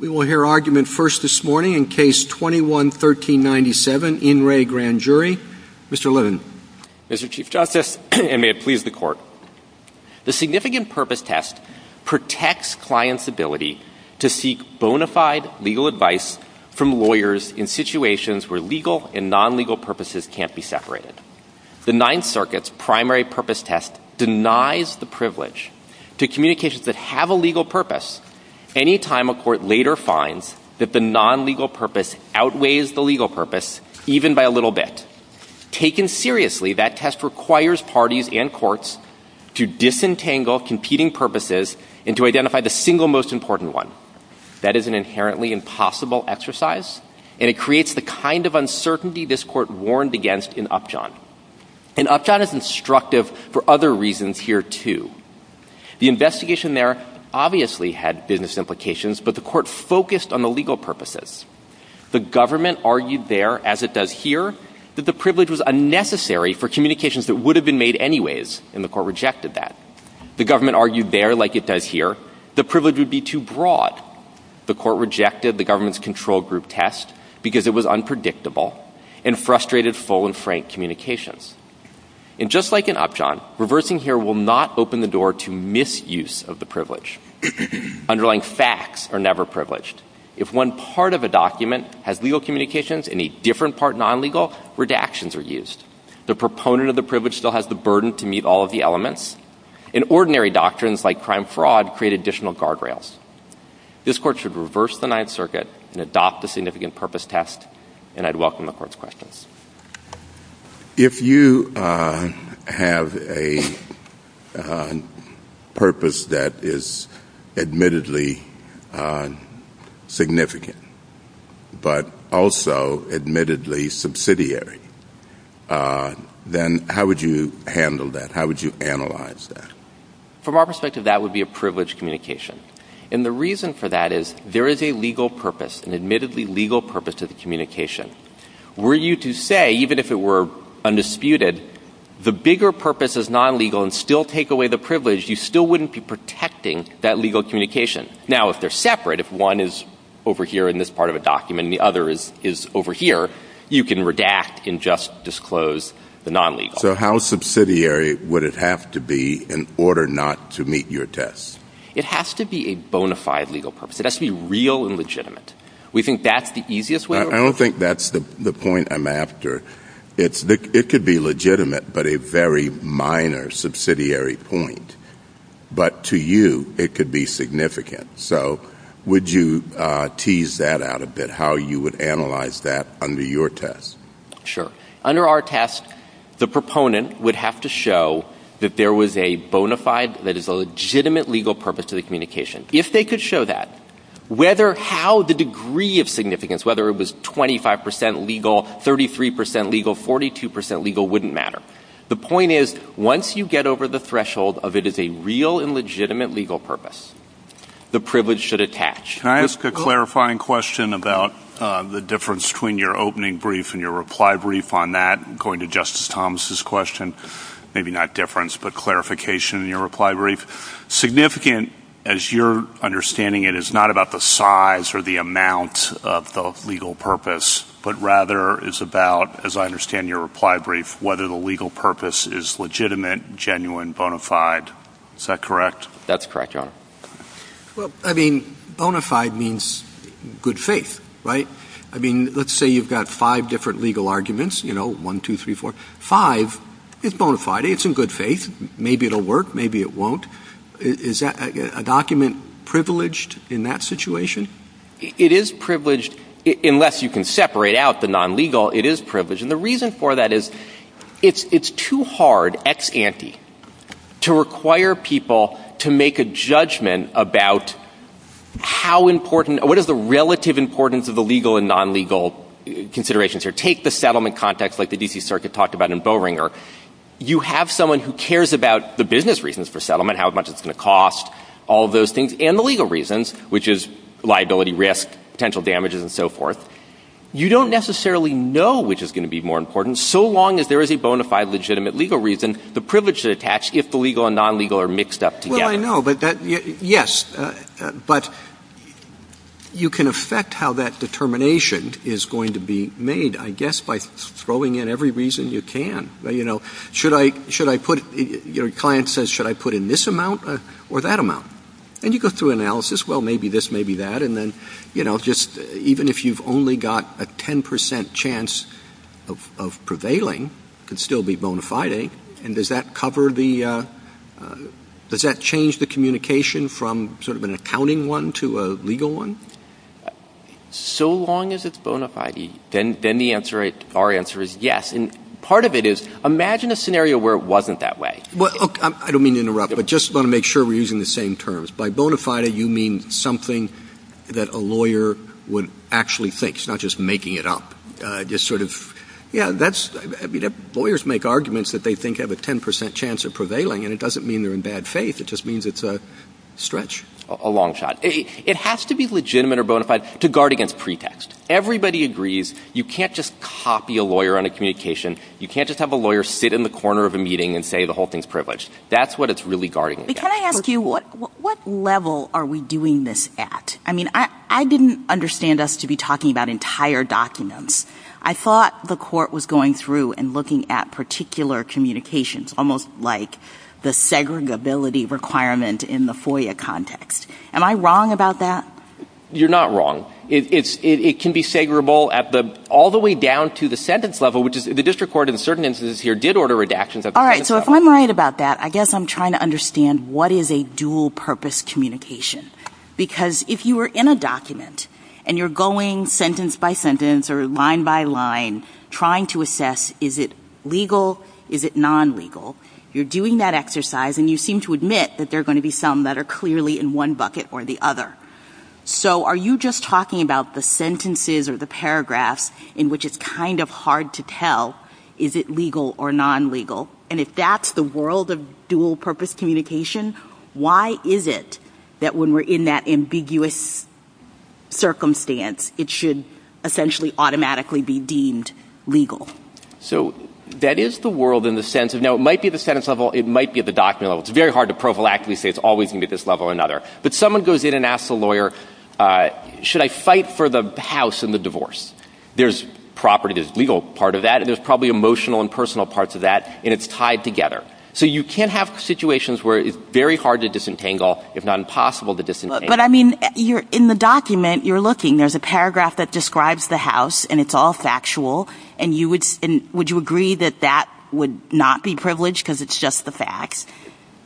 We will hear argument first this morning in Case 21-1397, In Re Grand Jury. Mr. Levin. Mr. Chief Justice, and may it please the Court, the Significant Purpose Test protects clients' ability to seek bona fide legal advice from lawyers in situations where legal and non-legal purposes can't be separated. The Ninth Circuit's Primary Purpose Test denies the privilege to communications that have a legal purpose any time a court later finds that the non-legal purpose outweighs the legal purpose, even by a little bit. Taken seriously, that test requires parties and courts to disentangle competing purposes and to identify the single most important one. That is an inherently impossible exercise, and it creates the kind of uncertainty this Court warned against in Upjohn. And Upjohn is instructive for other reasons here, too. The investigation there obviously had business implications, but the Court focused on the legal purposes. The government argued there, as it does here, that the privilege was unnecessary for communications that would have been made anyways, and the Court rejected that. The government argued there, like it does here, the privilege would be too broad. The Court rejected the government's control group test because it was unpredictable and frustrated full and frank communications. And just like in Upjohn, reversing here will not open the door to misuse of the privilege. Underlying facts are never privileged. If one part of a document has legal communications and a different part non-legal, redactions are used. The proponent of the privilege still has the burden to meet all of the elements. And ordinary doctrines like crime fraud create additional guardrails. This Court should reverse the Ninth Circuit and adopt a significant purpose test, and I'd welcome the Court's questions. If you have a purpose that is admittedly significant, but also admittedly subsidiary, then how would you handle that? How would you analyze that? From our perspective, that would be a privileged communication. And the reason for that is there is a legal purpose, an admittedly legal purpose to the communication. Were you to say, even if it were undisputed, the bigger purpose is non-legal and still take away the privilege, you still wouldn't be protecting that legal communication. Now, if they're separate, if one is over here in this part of a document and the other is over here, you can redact and just disclose the non-legal. So how subsidiary would it have to be in order not to meet your tests? It has to be a bona fide legal purpose. It has to be real and legitimate. We think that's the easiest way? I don't think that's the point I'm after. It could be legitimate, but a very minor subsidiary point. But to you, it could be significant. So would you tease that out a bit, how you would analyze that under your test? Sure. Under our test, the proponent would have to show that there was a bona fide, that is a legitimate legal purpose to the communication. If they could show that, whether how the degree of significance, whether it was 25 percent legal, 33 percent legal, 42 percent legal, wouldn't matter. The point is, once you get over the threshold of it is a real and legitimate legal purpose, the privilege should attach. Can I ask a clarifying question about the difference between your opening brief and your reply brief on that? Going to Justice Thomas' question, maybe not difference, but clarification in your reply brief. Significant, as you're understanding it, is not about the size or the amount of the legal purpose, but rather is about, as I understand your reply brief, whether the legal purpose is legitimate, genuine, bona fide. Is that correct? That's correct, Your Honor. Well, I mean, bona fide means good faith, right? I mean, let's say you've got five different legal arguments, you know, one, two, three, four. Five is bona fide. It's in good faith. Maybe it will work. Maybe it won't. Is that a document privileged in that situation? It is privileged. Unless you can separate out the non-legal, it is privileged. And the reason for that is it's too hard ex ante to require people to make a judgment about how important or what is the relative importance of the legal and non-legal considerations here. Take the settlement context like the D.C. Circuit talked about in Boehringer. You have someone who cares about the business reasons for settlement, how much it's going to cost, all of those things, and the legal reasons, which is liability, risk, potential damages, and so forth. You don't necessarily know which is going to be more important, so long as there is a bona fide legitimate legal reason, the privilege should attach if the legal and non-legal are mixed up together. Well, I know. But that — yes. But you can affect how that determination is going to be made, I guess, by throwing in every reason you can. You know, should I put — your client says, should I put in this amount or that amount? And you go through analysis. Well, maybe this, maybe that. And then, you know, just even if you've only got a 10 percent chance of prevailing, it could still be bona fide. And does that cover the — does that change the communication from sort of an accounting one to a legal one? So long as it's bona fide, then the answer — our answer is yes. And part of it is, imagine a scenario where it wasn't that way. Well, look, I don't mean to interrupt, but just want to make sure we're using the same terms. By bona fide, you mean something that a lawyer would actually think. It's not just making it up. Just sort of — yeah, that's — I mean, lawyers make arguments that they think have a 10 percent chance of prevailing, and it doesn't mean they're in bad faith. It just means it's a stretch. A long shot. It has to be legitimate or bona fide to guard against pretext. Everybody agrees you can't just copy a lawyer on a communication. You can't just have a lawyer sit in the corner of a meeting and say the whole thing's privileged. That's what it's really guarding against. But can I ask you, what level are we doing this at? I mean, I didn't understand us to be talking about entire documents. I thought the court was going through and looking at particular communications, almost like the segregability requirement in the FOIA context. Am I wrong about that? You're not wrong. It can be segregable all the way down to the sentence level, which is — the district court in certain instances here did order redactions at the sentence level. All right. So if I'm right about that, I guess I'm trying to understand what is a dual purpose communication. Because if you were in a document and you're going sentence by sentence or line by line trying to assess is it legal, is it non-legal, you're doing that exercise, and you seem to admit that there are going to be some that are clearly in one bucket or the other. So are you just talking about the sentences or the paragraphs in which it's kind of hard to tell is it legal or non-legal? And if that's the world of dual purpose communication, why is it that when we're in that ambiguous circumstance, it should essentially automatically be deemed legal? So that is the world in the sense of — now, it might be at the sentence level. It might be at the document level. It's very hard to prophylactically say it's always going to be at this level or another. But someone goes in and asks the lawyer, should I fight for the house in the divorce? There's property, there's legal part of that, and there's probably emotional and personal parts of that, and it's tied together. So you can have situations where it's very hard to disentangle, if not impossible to disentangle. But, I mean, in the document you're looking, there's a paragraph that describes the house, and it's all factual. And would you agree that that would not be privileged because it's just the facts?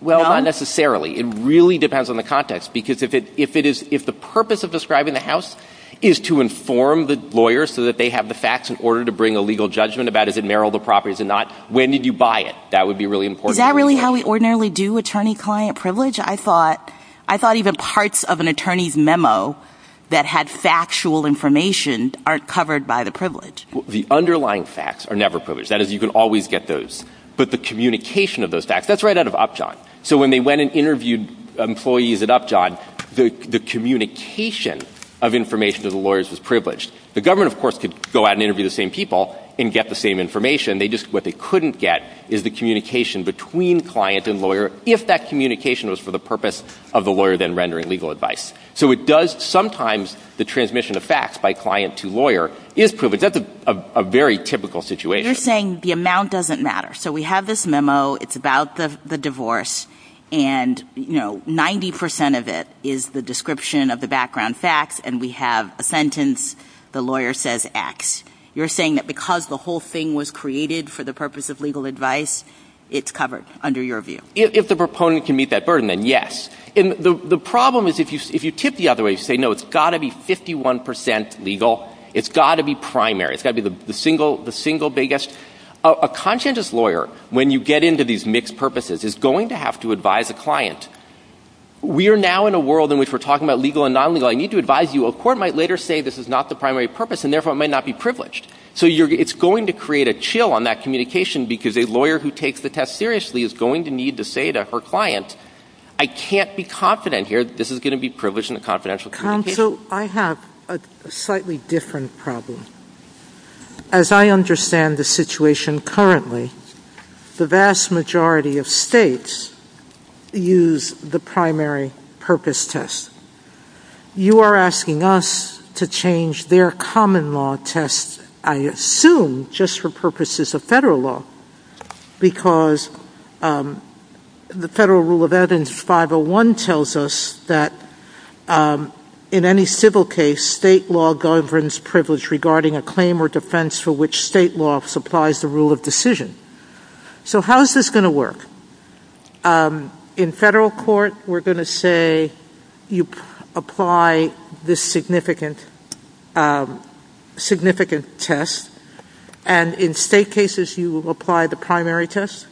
Well, not necessarily. It really depends on the context. Because if it is — if the purpose of describing the house is to inform the lawyer so that they have the facts in order to bring a legal judgment about, is it marital property, is it not? When did you buy it? That would be really important. Is that really how we ordinarily do attorney-client privilege? I thought even parts of an attorney's memo that had factual information aren't covered by the privilege. The underlying facts are never privileged. That is, you can always get those. But the communication of those facts, that's right out of Upjohn. So when they went and interviewed employees at Upjohn, the communication of information to the lawyers was privileged. The government, of course, could go out and interview the same people and get the same information. They just — what they couldn't get is the communication between client and lawyer, if that communication was for the purpose of the lawyer then rendering legal advice. So it does — sometimes the transmission of facts by client to lawyer is privileged. That's a very typical situation. But you're saying the amount doesn't matter. So we have this memo. It's about the divorce. And, you know, 90 percent of it is the description of the background facts, and we have a sentence, the lawyer says X. You're saying that because the whole thing was created for the purpose of legal advice, it's covered under your view? If the proponent can meet that burden, then yes. And the problem is if you tip the other way, you say, no, it's got to be 51 percent legal. It's got to be primary. It's got to be the single biggest. A conscientious lawyer, when you get into these mixed purposes, is going to have to advise a client. We are now in a world in which we're talking about legal and non-legal. I need to advise you. A court might later say this is not the primary purpose, and therefore it might not be privileged. So it's going to create a chill on that communication because a lawyer who takes the test seriously is going to need to say to her client, I can't be confident here. This is going to be privileged in a confidential communication. I have a slightly different problem. As I understand the situation currently, the vast majority of states use the primary purpose test. You are asking us to change their common law test, I assume just for purposes of federal law, because the federal rule of evidence 501 tells us that in any civil case, state law governs privilege regarding a claim or defense for which state law supplies the rule of decision. So how is this going to work? In federal court, we're going to say you apply this significant test, and in state cases, you apply the primary test?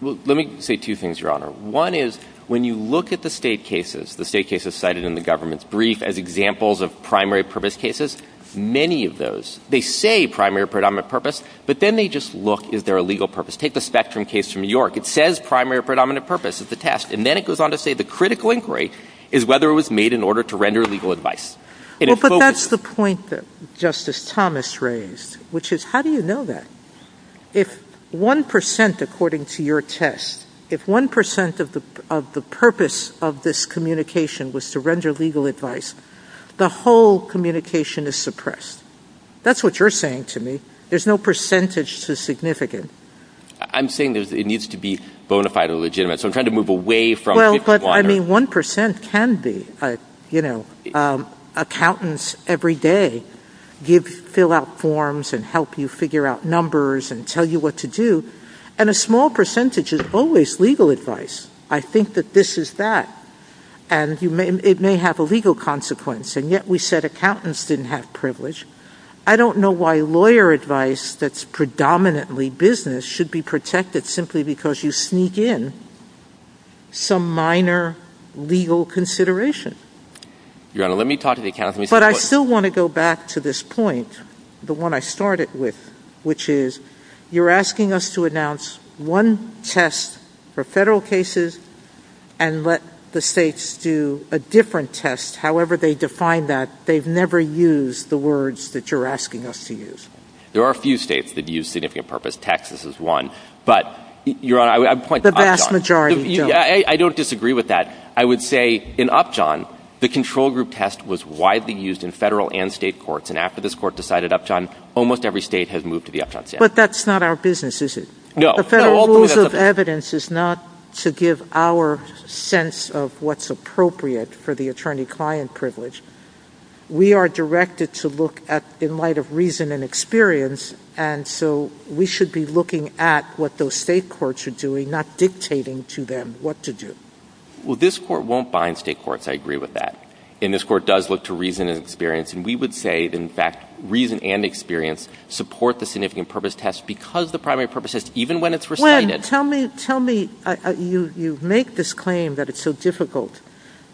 Well, let me say two things, Your Honor. One is when you look at the state cases, the state cases cited in the government's brief as examples of primary purpose cases, many of those, they say primary predominant purpose, but then they just look, is there a legal purpose? Take the Spectrum case from New York. It says primary predominant purpose is the test. And then it goes on to say the critical inquiry is whether it was made in order to render legal advice. Well, but that's the point that Justice Thomas raised, which is how do you know that? If 1%, according to your test, if 1% of the purpose of this communication was to render legal advice, the whole communication is suppressed. That's what you're saying to me. There's no percentage to significant. I'm saying it needs to be bona fide or legitimate. So I'm trying to move away from 501. Well, but, I mean, 1% can be. Accountants every day fill out forms and help you figure out numbers and tell you what to do. And a small percentage is always legal advice. I think that this is that. And it may have a legal consequence. And yet we said accountants didn't have privilege. I don't know why lawyer advice that's predominantly business should be Your Honor, let me talk to the accountants. But I still want to go back to this point, the one I started with, which is you're asking us to announce one test for Federal cases and let the States do a different test, however they define that. They've never used the words that you're asking us to use. There are a few States that use significant purpose. Texas is one. But, Your Honor, I would point to Upjohn. The vast majority don't. I don't disagree with that. I would say in Upjohn, the control group test was widely used in Federal and State courts. And after this Court decided Upjohn, almost every State has moved to the Upjohn standard. But that's not our business, is it? No. The Federal rules of evidence is not to give our sense of what's appropriate for the attorney-client privilege. We are directed to look at, in light of reason and experience, and so we should be looking at what those State courts are doing, not dictating to them what to do. Well, this Court won't bind State courts. I agree with that. And this Court does look to reason and experience. And we would say, in fact, reason and experience support the significant purpose test because the primary purpose test, even when it's recited. Tell me, tell me, you make this claim that it's so difficult,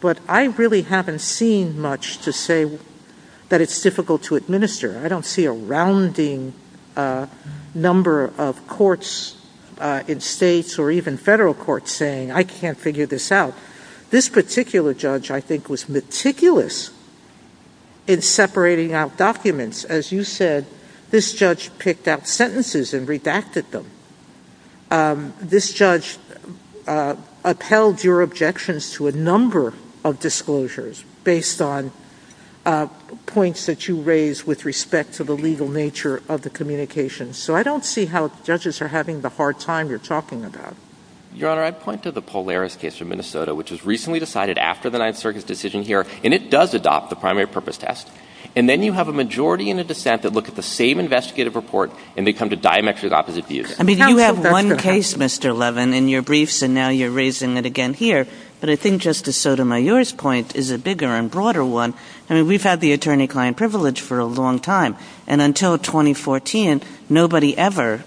but I really haven't seen much to say that it's difficult to administer. I don't see a rounding number of courts in States or even Federal courts saying, I can't figure this out. This particular judge, I think, was meticulous in separating out documents. As you said, this judge picked out sentences and redacted them. This judge upheld your objections to a number of disclosures based on points that you raised with respect to the legal nature of the communication. So I don't see how judges are having the hard time you're talking about. Your Honor, I point to the Polaris case from Minnesota, which was recently decided after the Ninth Circuit's decision here. And it does adopt the primary purpose test. And then you have a majority and a dissent that look at the same investigative report, and they come to diametrically opposite views. I mean, you have one case, Mr. Levin, in your briefs, and now you're raising it again here. But I think Justice Sotomayor's point is a bigger and broader one. I mean, we've had the attorney-client privilege for a long time. And until 2014, nobody ever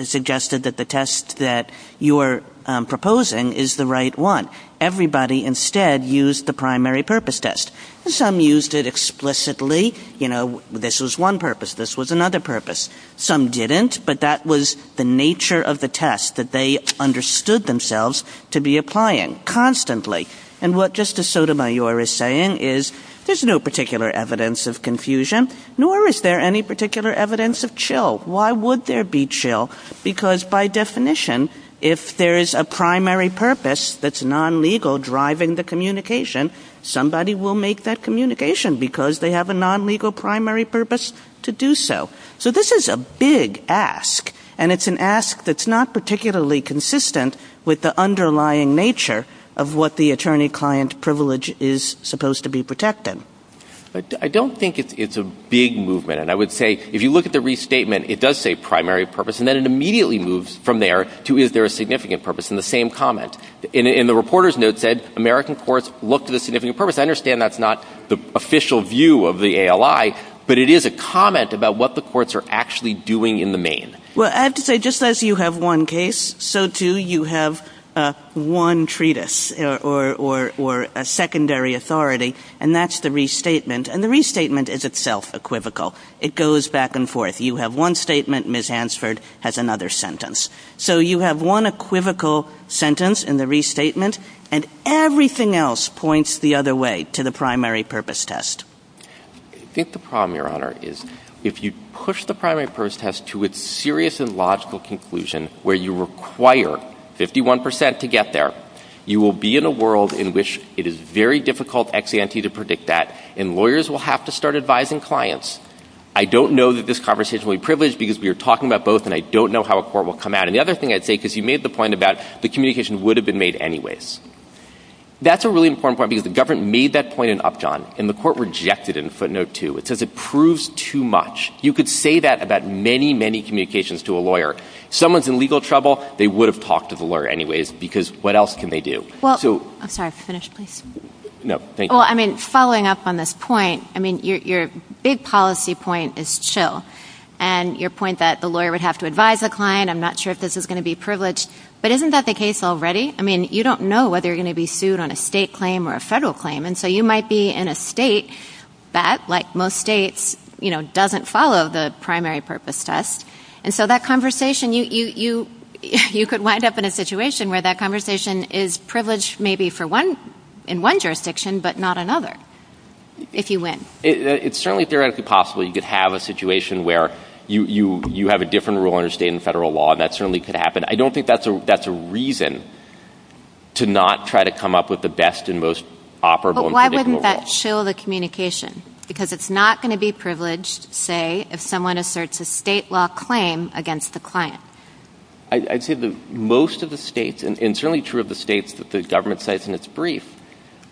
suggested that the test that you're proposing is the right one. Everybody instead used the primary purpose test. Some used it explicitly. You know, this was one purpose. This was another purpose. Some didn't. But that was the nature of the test, that they understood themselves to be applying constantly. And what Justice Sotomayor is saying is there's no particular evidence of that, nor is there any particular evidence of chill. Why would there be chill? Because by definition, if there is a primary purpose that's non-legal driving the communication, somebody will make that communication because they have a non-legal primary purpose to do so. So this is a big ask, and it's an ask that's not particularly consistent with the underlying nature of what the attorney-client privilege is supposed to be protecting. I don't think it's a big movement. And I would say if you look at the restatement, it does say primary purpose, and then it immediately moves from there to is there a significant purpose in the same comment. In the reporter's note said, American courts look to the significant purpose. I understand that's not the official view of the ALI, but it is a comment about what the courts are actually doing in the main. Well, I have to say, just as you have one case, so, too, you have one treatise or a secondary authority. And that's the restatement. And the restatement is itself equivocal. It goes back and forth. You have one statement. Ms. Hansford has another sentence. So you have one equivocal sentence in the restatement, and everything else points the other way to the primary purpose test. I think the problem, Your Honor, is if you push the primary purpose test to its serious and logical conclusion where you require 51 percent to get there, you will be in a world in which it is very difficult ex ante to predict that, and lawyers will have to start advising clients. I don't know that this conversation will be privileged because we are talking about both, and I don't know how a court will come out. And the other thing I'd say, because you made the point about the communication would have been made anyways. That's a really important point because the government made that point in Upjohn, and the court rejected it in footnote 2. It says it proves too much. You could say that about many, many communications to a lawyer. Someone's in legal trouble, they would have talked to the lawyer anyways because what else can they do? I'm sorry. Finish, please. No, thank you. Well, I mean, following up on this point, I mean, your big policy point is chill, and your point that the lawyer would have to advise the client, I'm not sure if this is going to be privileged, but isn't that the case already? I mean, you don't know whether you're going to be sued on a state claim or a federal claim, and so you might be in a state that, like most states, doesn't follow the primary purpose test. And so that conversation, you could wind up in a situation where that privilege may be in one jurisdiction but not another, if you win. It's certainly theoretically possible you could have a situation where you have a different rule under state and federal law, and that certainly could happen. I don't think that's a reason to not try to come up with the best and most operable and predictable rule. But why wouldn't that chill the communication? Because it's not going to be privileged, say, if someone asserts a state law claim against the client. I'd say that most of the states, and it's certainly true of the states that the government cites in its brief,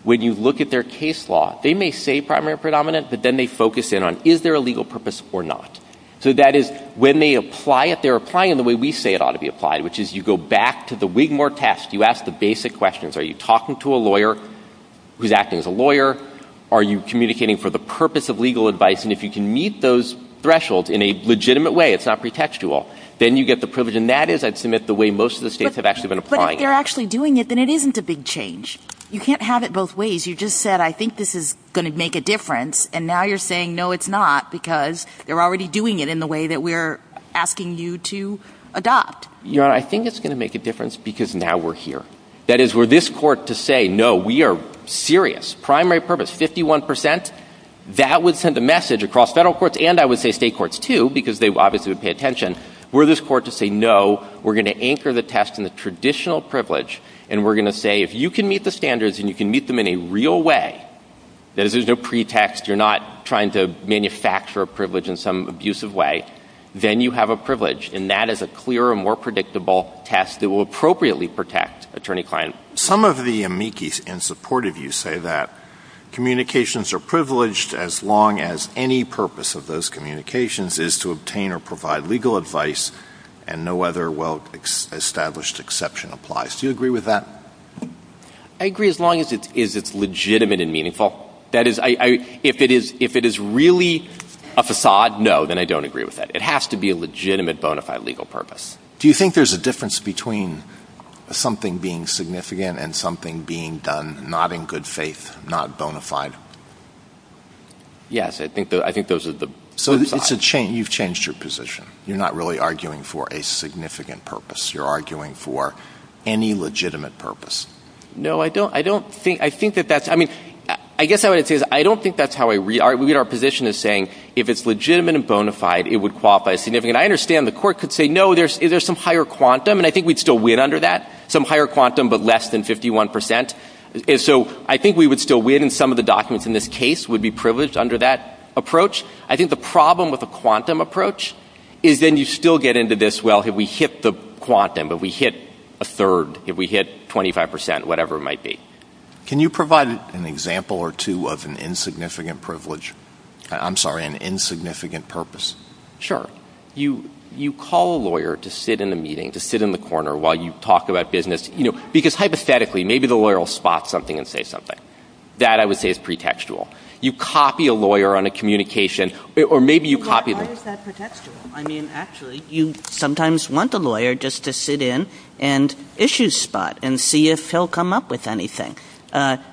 when you look at their case law, they may say primary or predominant, but then they focus in on, is there a legal purpose or not? So that is, when they apply it, they're applying it the way we say it ought to be applied, which is you go back to the Wigmore test. You ask the basic questions. Are you talking to a lawyer who's acting as a lawyer? Are you communicating for the purpose of legal advice? And if you can meet those thresholds in a legitimate way, it's not going to be privileged, and that is, I'd submit, the way most of the states have actually been applying it. But if they're actually doing it, then it isn't a big change. You can't have it both ways. You just said, I think this is going to make a difference, and now you're saying, no, it's not, because they're already doing it in the way that we're asking you to adopt. Your Honor, I think it's going to make a difference because now we're here. That is, were this court to say, no, we are serious, primary purpose, 51 percent, that would send a message across federal courts, and I would say state courts, too, because they obviously would pay attention. Were this court to say, no, we're going to anchor the test in the traditional privilege, and we're going to say, if you can meet the standards and you can meet them in a real way, that is, there's no pretext, you're not trying to manufacture a privilege in some abusive way, then you have a privilege, and that is a clearer, more predictable test that will appropriately protect attorney-client. Some of the amici in support of you say that communications are privileged as long as any purpose of those communications is to obtain or provide legal advice and no other well-established exception applies. Do you agree with that? I agree as long as it's legitimate and meaningful. That is, if it is really a facade, no, then I don't agree with that. It has to be a legitimate, bona fide legal purpose. Do you think there's a difference between something being significant and something being done not in good faith, not bona fide? Yes, I think those are the two sides. So you've changed your position. You're not really arguing for a significant purpose. You're arguing for any legitimate purpose. No, I don't think that that's, I mean, I guess what I would say is I don't think that's how I read our position as saying, if it's legitimate and bona fide, it would qualify as significant. I understand the court could say, no, there's some higher quantum, and I think we'd still win under that, some higher quantum but less than 51%. So I think we would still win, and some of the documents in this case would be privileged under that approach. I think the problem with a quantum approach is then you still get into this, well, we hit the quantum, but we hit a third, we hit 25%, whatever it might be. Can you provide an example or two of an insignificant privilege, I'm sorry, an insignificant purpose? Sure. You call a lawyer to sit in a meeting, to sit in the corner while you talk about business, because hypothetically, maybe the lawyer will spot something and say something. That, I would say, is pretextual. You copy a lawyer on a communication, or maybe you copy them. But why is that pretextual? I mean, actually, you sometimes want a lawyer just to sit in and issue spot and see if he'll come up with anything.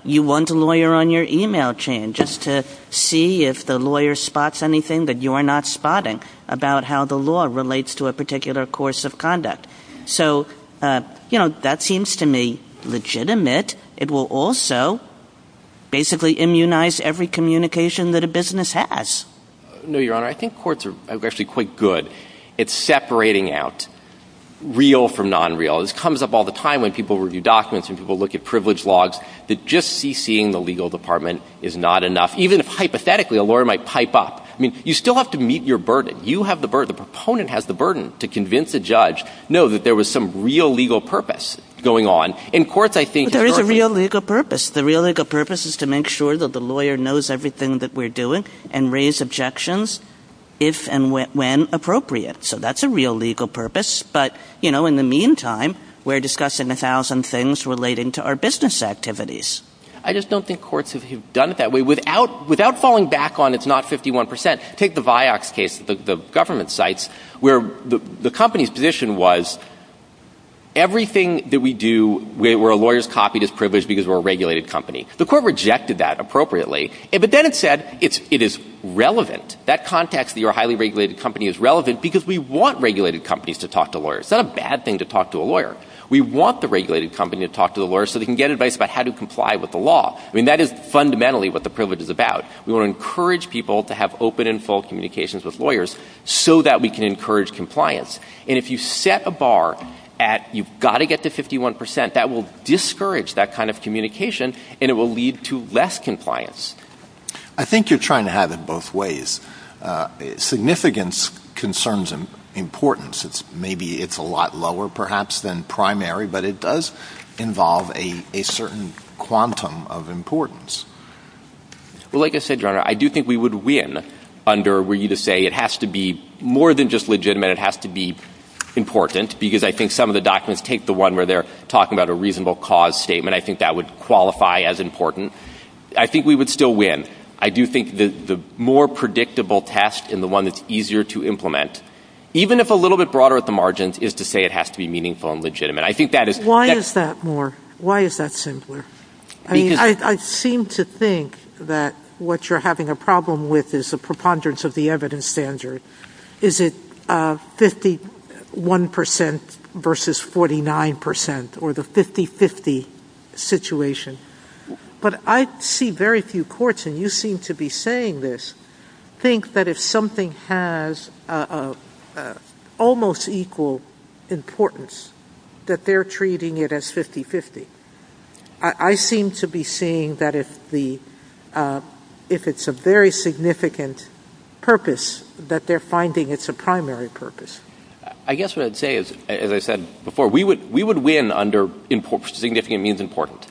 You want a lawyer on your email chain just to see if the lawyer spots anything that you're not spotting about how the law relates to a particular course of conduct. So, you know, that seems to me legitimate. It will also basically immunize every communication that a business has. No, Your Honor. I think courts are actually quite good at separating out real from nonreal. This comes up all the time when people review documents, when people look at privilege logs, that just CCing the legal department is not enough. Even if, hypothetically, a lawyer might pipe up. I mean, you still have to meet your burden. You have the burden. The proponent has the burden to convince a judge, no, that there was some real legal purpose going on. In courts, I think... There is a real legal purpose. The real legal purpose is to make sure that the lawyer knows everything that we're doing and raise objections if and when appropriate. So that's a real legal purpose. But, you know, in the meantime, we're discussing a thousand things relating to our business activities. I just don't think courts have done it that way. Without falling back on it's not 51 percent, take the Vioxx case, the government sites, where the company's position was everything that we do where a lawyer's copy is privileged because we're a regulated company. The court rejected that appropriately. But then it said it is relevant. That context that you're a highly regulated company is relevant because we want regulated companies to talk to lawyers. It's not a bad thing to talk to a lawyer. We want the regulated company to talk to the lawyers so they can get advice about how to comply with the law. I mean, that is fundamentally what the privilege is about. We want to encourage people to have open and full communications with lawyers so that we can encourage compliance. And if you set a bar at you've got to get to 51 percent, that will discourage that kind of communication and it will lead to less compliance. I think you're trying to have it both ways. Significance concerns importance. Maybe it's a lot lower, perhaps, than primary. But it does involve a certain quantum of importance. Well, like I said, Your Honor, I do think we would win under were you to say it has to be more than just legitimate. It has to be important. Because I think some of the documents take the one where they're talking about a reasonable cause statement. I think that would qualify as important. I think we would still win. I do think the more predictable test and the one that's easier to implement, even if a little bit broader at the margins, is to say it has to be meaningful and legitimate. Why is that more? Why is that simpler? I mean, I seem to think that what you're having a problem with is a preponderance of the evidence standard. Is it 51% versus 49% or the 50-50 situation? But I see very few courts, and you seem to be saying this, think that if something has almost equal importance, that they're treating it as 50-50. I seem to be seeing that if it's a very significant purpose, that they're finding it's a primary purpose. I guess what I'd say is, as I said before, we would win under significant means important,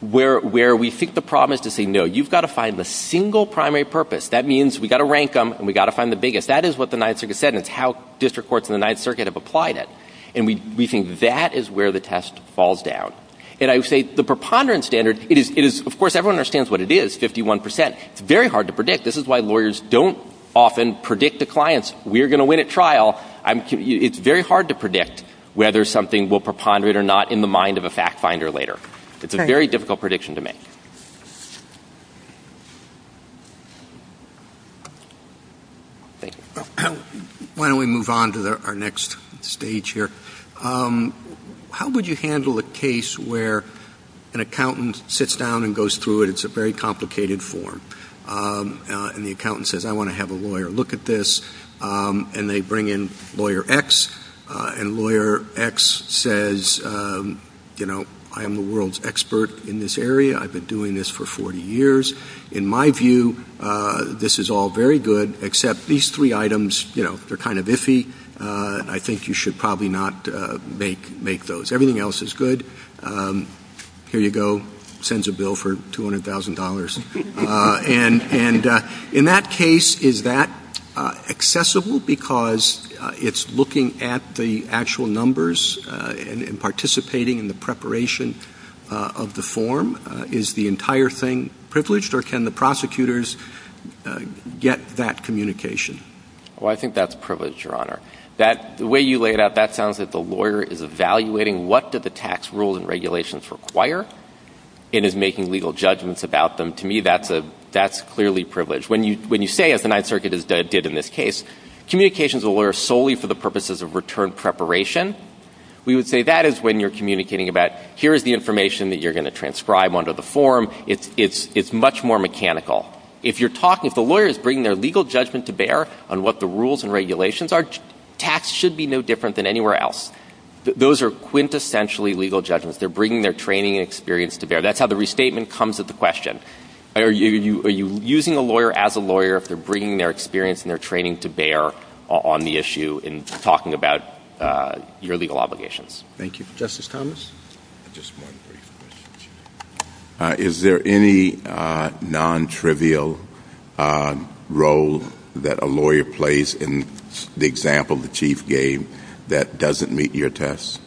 where we think the problem is to say, no, you've got to find the single primary purpose. That means we've got to rank them, and we've got to find the biggest. That is what the Ninth Circuit said, and it's how district courts in the Ninth Circuit have applied it. And we think that is where the test falls down. And I would say the preponderance standard, it is, of course, everyone understands what it is, 51%. It's very hard to predict. This is why lawyers don't often predict to clients, we're going to win at trial. It's very hard to predict whether something will preponderate or not in the mind of a fact finder later. It's a very difficult prediction to make. Why don't we move on to our next stage here. How would you handle a case where an accountant sits down and goes through it? It's a very complicated form. And the accountant says, I want to have a lawyer look at this. And they bring in Lawyer X, and Lawyer X says, you know, I am the world's expert in this area. I've been doing this for 40 years. In my view, this is all very good, except these three items, you know, they're kind of iffy. I think you should probably not make those. Everything else is good. Here you go. Sends a bill for $200,000. And in that case, is that accessible? Because it's looking at the actual numbers and participating in the preparation of the form. Is the entire thing privileged? Or can the prosecutors get that communication? Well, I think that's privileged, Your Honor. The way you lay it out, that sounds like the lawyer is evaluating what do the tax rules and regulations require and is making legal judgments about them. To me, that's clearly privileged. When you say, as the Ninth Circuit did in this case, communication is a lawyer solely for the purposes of return preparation, we would say that is when you're communicating about here is the information that you're going to give them under the form. It's much more mechanical. If you're talking, if the lawyer is bringing their legal judgment to bear on what the rules and regulations are, tax should be no different than anywhere else. Those are quintessentially legal judgments. They're bringing their training and experience to bear. That's how the restatement comes at the question. Are you using a lawyer as a lawyer if they're bringing their experience and their training to bear on the issue and talking about your legal obligations? Thank you. Justice Thomas? Just one brief question. Is there any non-trivial role that a lawyer plays in the example the Chief gave that doesn't meet your tests?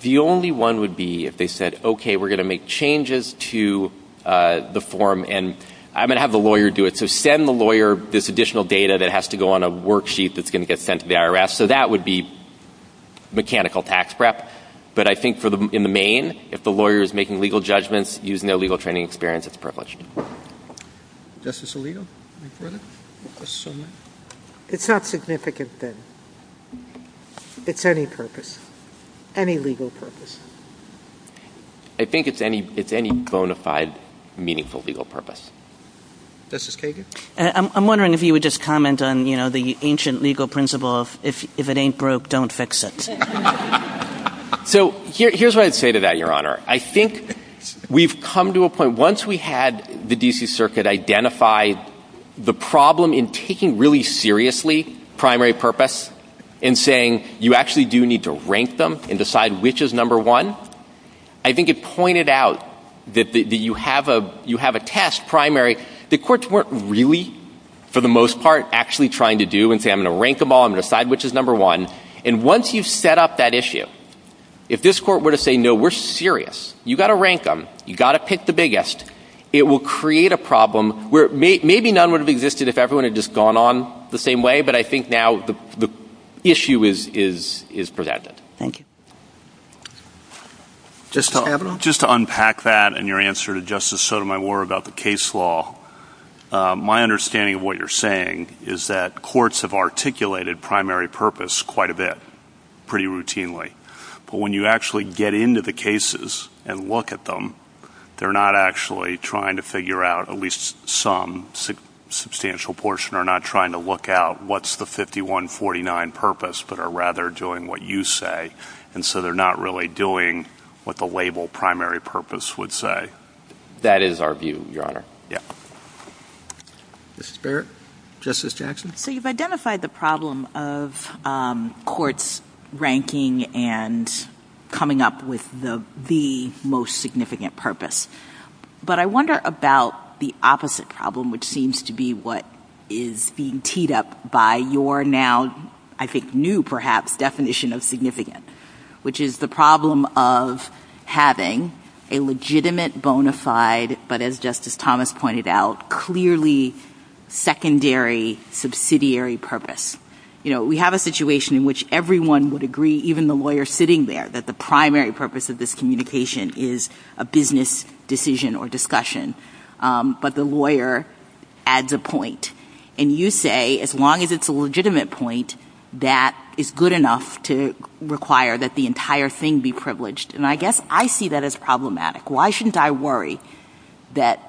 The only one would be if they said, okay, we're going to make changes to the form and I'm going to have the lawyer do it, so send the lawyer this additional data that has to go on a worksheet that's going to get sent to the IRS. So that would be mechanical tax prep. But I think in the main, if the lawyer is making legal judgments using their legal training and experience, it's privileged. Justice Alito? It's not significant then. It's any purpose. Any legal purpose. I think it's any bona fide meaningful legal purpose. Justice Kagan? I'm wondering if you would just comment on the ancient legal principle of if it ain't broke, don't fix it. So here's what I'd say to that, Your Honor. I think we've come to a point, once we had the D.C. Circuit identify the problem in taking really seriously primary purpose and saying you actually do need to rank them and decide which is number one, I think it pointed out that you have a test primary. The courts weren't really, for the most part, actually trying to do and say I'm going to rank them all, I'm going to decide which is number one. And once you've set up that issue, if this court were to say no, we're serious, you've got to rank them, you've got to pick the biggest, it will create a problem where maybe none would have existed if everyone had just gone on the same way, but I think now the issue is presented. Thank you. Justice Kavanaugh? Just to unpack that and your answer to Justice Sotomayor about the case law, my understanding of what you're saying is that courts have articulated primary purpose quite a bit, pretty routinely. But when you actually get into the cases and look at them, they're not actually trying to figure out, at least some substantial portion are not trying to look out what's the 5149 purpose, but are rather doing what you say, and so they're not really doing what the label primary purpose would say. That is our view, Your Honor. Yeah. Justice Barrett? Justice Jackson? So you've identified the problem of courts ranking and coming up with the most significant purpose. But I wonder about the opposite problem, which seems to be what is being teed up by your now, I think, new, perhaps, definition of significant, which is the problem of having a legitimate, bona fide, but as Justice Thomas pointed out, clearly, secondary, subsidiary purpose. You know, we have a situation in which everyone would agree, even the lawyer sitting there, that the primary purpose of this communication is a business decision or discussion. But the lawyer adds a point. And you say, as long as it's a legitimate point, that is good enough to require that the entire thing be privileged. And I guess I see that as problematic. Why shouldn't I worry that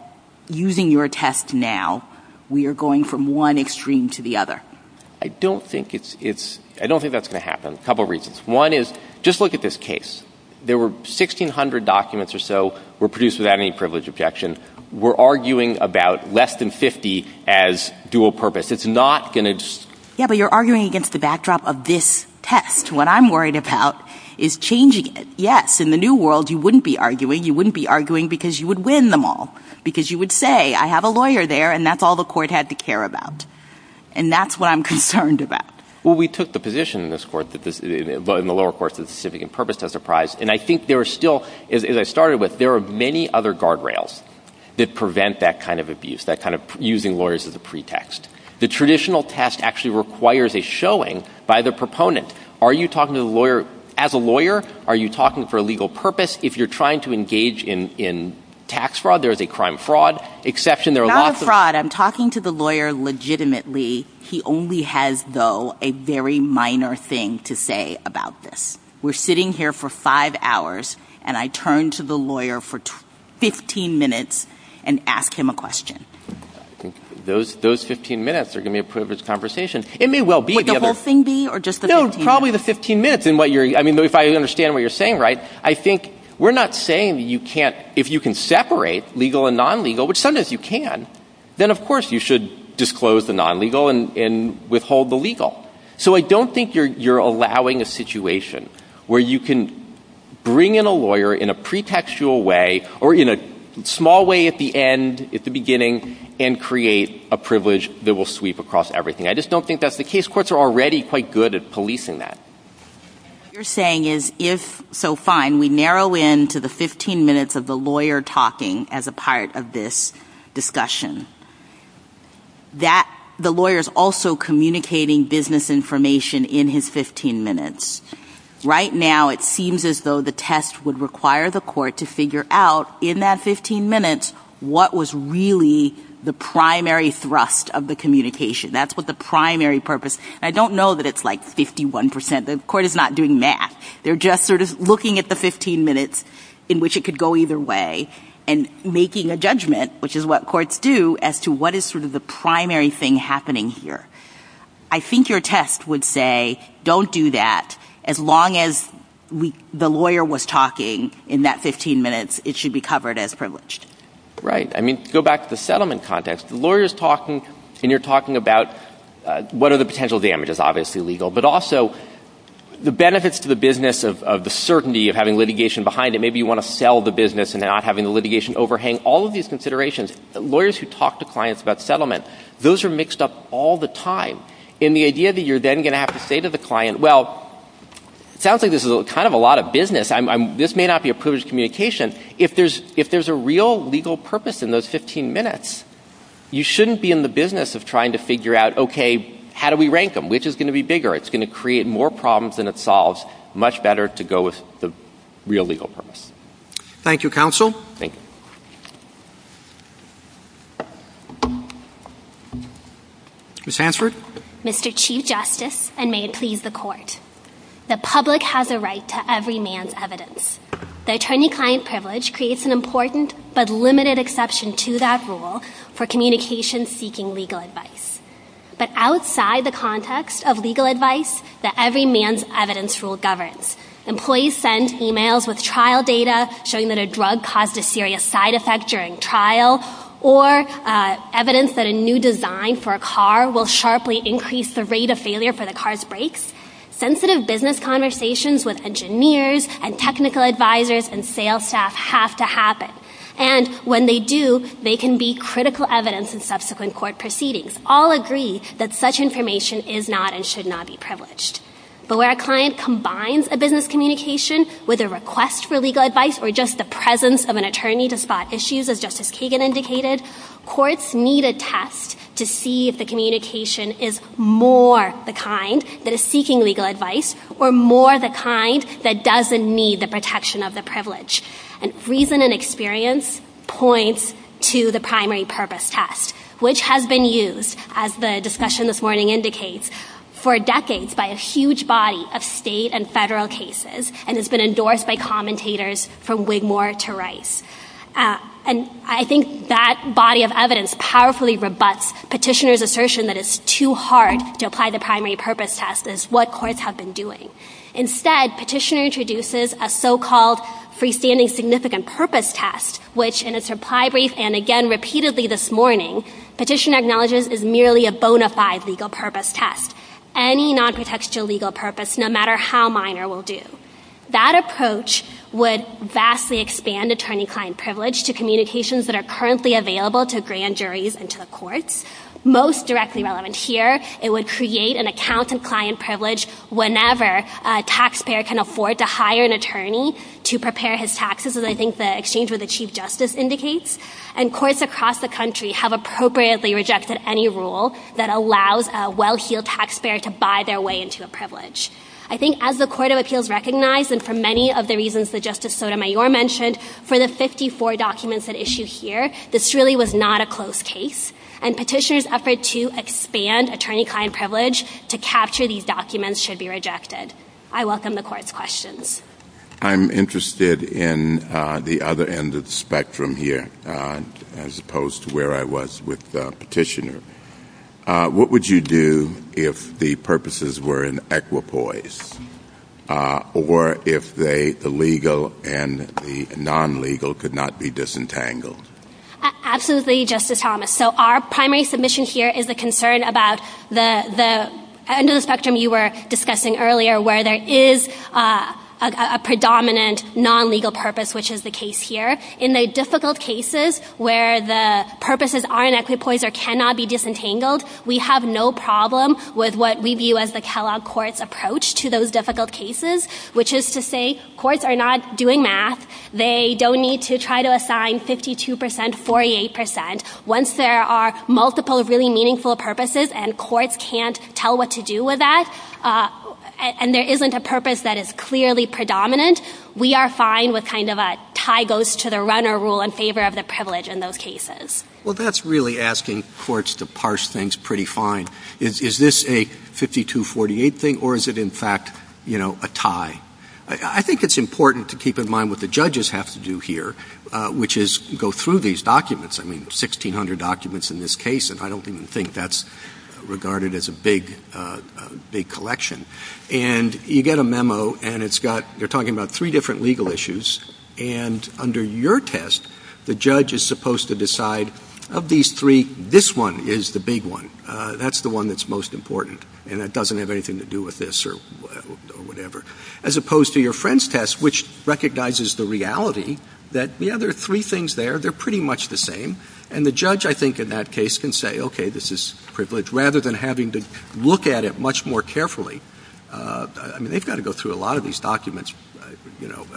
using your test now, we are going from one extreme to the other? I don't think it's — I don't think that's going to happen. A couple reasons. One is, just look at this case. There were 1,600 documents or so were produced without any privilege objection. We're arguing about less than 50 as dual purpose. It's not going to just — Yeah, but you're arguing against the backdrop of this test. What I'm worried about is changing it. Yes, in the new world, you wouldn't be arguing. You wouldn't be arguing because you would win them all. Because you would say, I have a lawyer there, and that's all the court had to care about. And that's what I'm concerned about. Well, we took the position in this court, in the lower courts, that the specific and purpose tests are prized. And I think there are still — as I started with, there are many other guard rails that prevent that kind of abuse, that kind of using lawyers as a pretext. The traditional test actually requires a showing by the proponent. Are you talking to the lawyer — as a lawyer? Are you talking for a legal purpose? If you're trying to engage in tax fraud, there is a crime fraud exception. There are lots of — Not a fraud. I'm talking to the lawyer legitimately. He only has, though, a very minor thing to say about this. We're sitting here for five hours, and I turn to the lawyer for 15 minutes and ask him a question. Those 15 minutes are going to be a privileged conversation. It may well be the other — Would the whole thing be, or just the 15 minutes? If I understand what you're saying right, I think we're not saying that you can't — if you can separate legal and non-legal, which sometimes you can, then of course you should disclose the non-legal and withhold the legal. So I don't think you're allowing a situation where you can bring in a lawyer in a pretextual way, or in a small way at the end, at the beginning, and create a privilege that will sweep across everything. I just don't think that's the case. These courts are already quite good at policing that. What you're saying is, if — so fine, we narrow in to the 15 minutes of the lawyer talking as a part of this discussion. That — the lawyer's also communicating business information in his 15 minutes. Right now, it seems as though the test would require the court to figure out, in that 15 minutes, what was really the primary thrust of the communication. That's what the primary purpose — and I don't know that it's like 51 percent. The court is not doing math. They're just sort of looking at the 15 minutes in which it could go either way and making a judgment, which is what courts do, as to what is sort of the primary thing happening here. I think your test would say, don't do that. As long as the lawyer was talking in that 15 minutes, it should be covered as privileged. Right. I mean, go back to the settlement context. The lawyer is talking, and you're talking about what are the potential damages, obviously legal, but also the benefits to the business of the certainty of having litigation behind it. Maybe you want to sell the business and not having the litigation overhang. All of these considerations, lawyers who talk to clients about settlement, those are mixed up all the time. And the idea that you're then going to have to say to the client, well, it sounds like this is kind of a lot of business. This may not be a privileged communication. If there's a real legal purpose in those 15 minutes, you shouldn't be in the business of trying to figure out, okay, how do we rank them? Which is going to be bigger? It's going to create more problems than it solves. Much better to go with the real legal purpose. Thank you, counsel. Thank you. Ms. Hansford. Mr. Chief Justice, and may it please the Court, the public has a right to every man's evidence. The attorney-client privilege creates an important but limited exception to that rule for communications seeking legal advice. But outside the context of legal advice, the every man's evidence rule governs. Employees send emails with trial data showing that a drug caused a serious side effect during trial or evidence that a new design for a car will sharply increase the rate of failure for the car's brakes. Sensitive business conversations with engineers and technical advisors and sales staff have to happen. And when they do, they can be critical evidence in subsequent court proceedings. All agree that such information is not and should not be privileged. But where a client combines a business communication with a request for legal advice or just the presence of an attorney to spot issues, as Justice Kagan indicated, courts need a test to see if the communication is more the kind that is seeking legal advice or more the kind that doesn't need the protection of the privilege. And reason and experience points to the primary purpose test, which has been used, as the discussion this morning indicates, for decades by a huge body of state and federal cases and has been endorsed by commentators from Wigmore to Rice. And I think that body of evidence powerfully rebuts petitioner's assertion that it's too hard to apply the primary purpose test as what courts have been doing. Instead, petitioner introduces a so-called freestanding significant purpose test, which in its reply brief and again repeatedly this morning, petitioner acknowledges is merely a bona fide legal purpose test. Any non-protection legal purpose, no matter how minor, will do. That approach would vastly expand attorney-client privilege to communications that are currently available to grand juries and to the courts. Most directly relevant here, it would create an accountant-client privilege whenever a taxpayer can afford to hire an attorney to prepare his taxes, as I think the exchange with the Chief Justice indicates, and courts across the country have appropriately rejected any rule that allows a well-heeled taxpayer to buy their way into a privilege. I think as the Court of Appeals recognized and for many of the reasons that really was not a close case, and petitioner's effort to expand attorney-client privilege to capture these documents should be rejected. I welcome the Court's questions. I'm interested in the other end of the spectrum here, as opposed to where I was with petitioner. What would you do if the purposes were in equipoise, or if the legal and the legal purpose were not disentangled? Absolutely, Justice Thomas. Our primary submission here is the concern about the end of the spectrum you were discussing earlier, where there is a predominant non-legal purpose, which is the case here. In the difficult cases where the purposes are in equipoise or cannot be disentangled, we have no problem with what we view as the Kellogg Court's approach to those difficult cases, which is to say courts are not doing math. They don't need to try to assign 52%, 48%. Once there are multiple really meaningful purposes and courts can't tell what to do with that, and there isn't a purpose that is clearly predominant, we are fine with kind of a tie goes to the runner rule in favor of the privilege in those cases. Well, that's really asking courts to parse things pretty fine. Is this a 52-48 thing, or is it in fact, you know, a tie? I think it's important to keep in mind what the judges have to do here, which is go through these documents. I mean, 1,600 documents in this case, and I don't even think that's regarded as a big collection. And you get a memo, and it's got — they're talking about three different legal issues, and under your test, the judge is supposed to decide, of these three, this one is the big one. That's the one that's most important, and it doesn't have anything to do with this or whatever. As opposed to your friend's test, which recognizes the reality that, yeah, there are three things there. They're pretty much the same. And the judge, I think, in that case can say, okay, this is privilege, rather than having to look at it much more carefully. I mean, they've got to go through a lot of these documents, you know,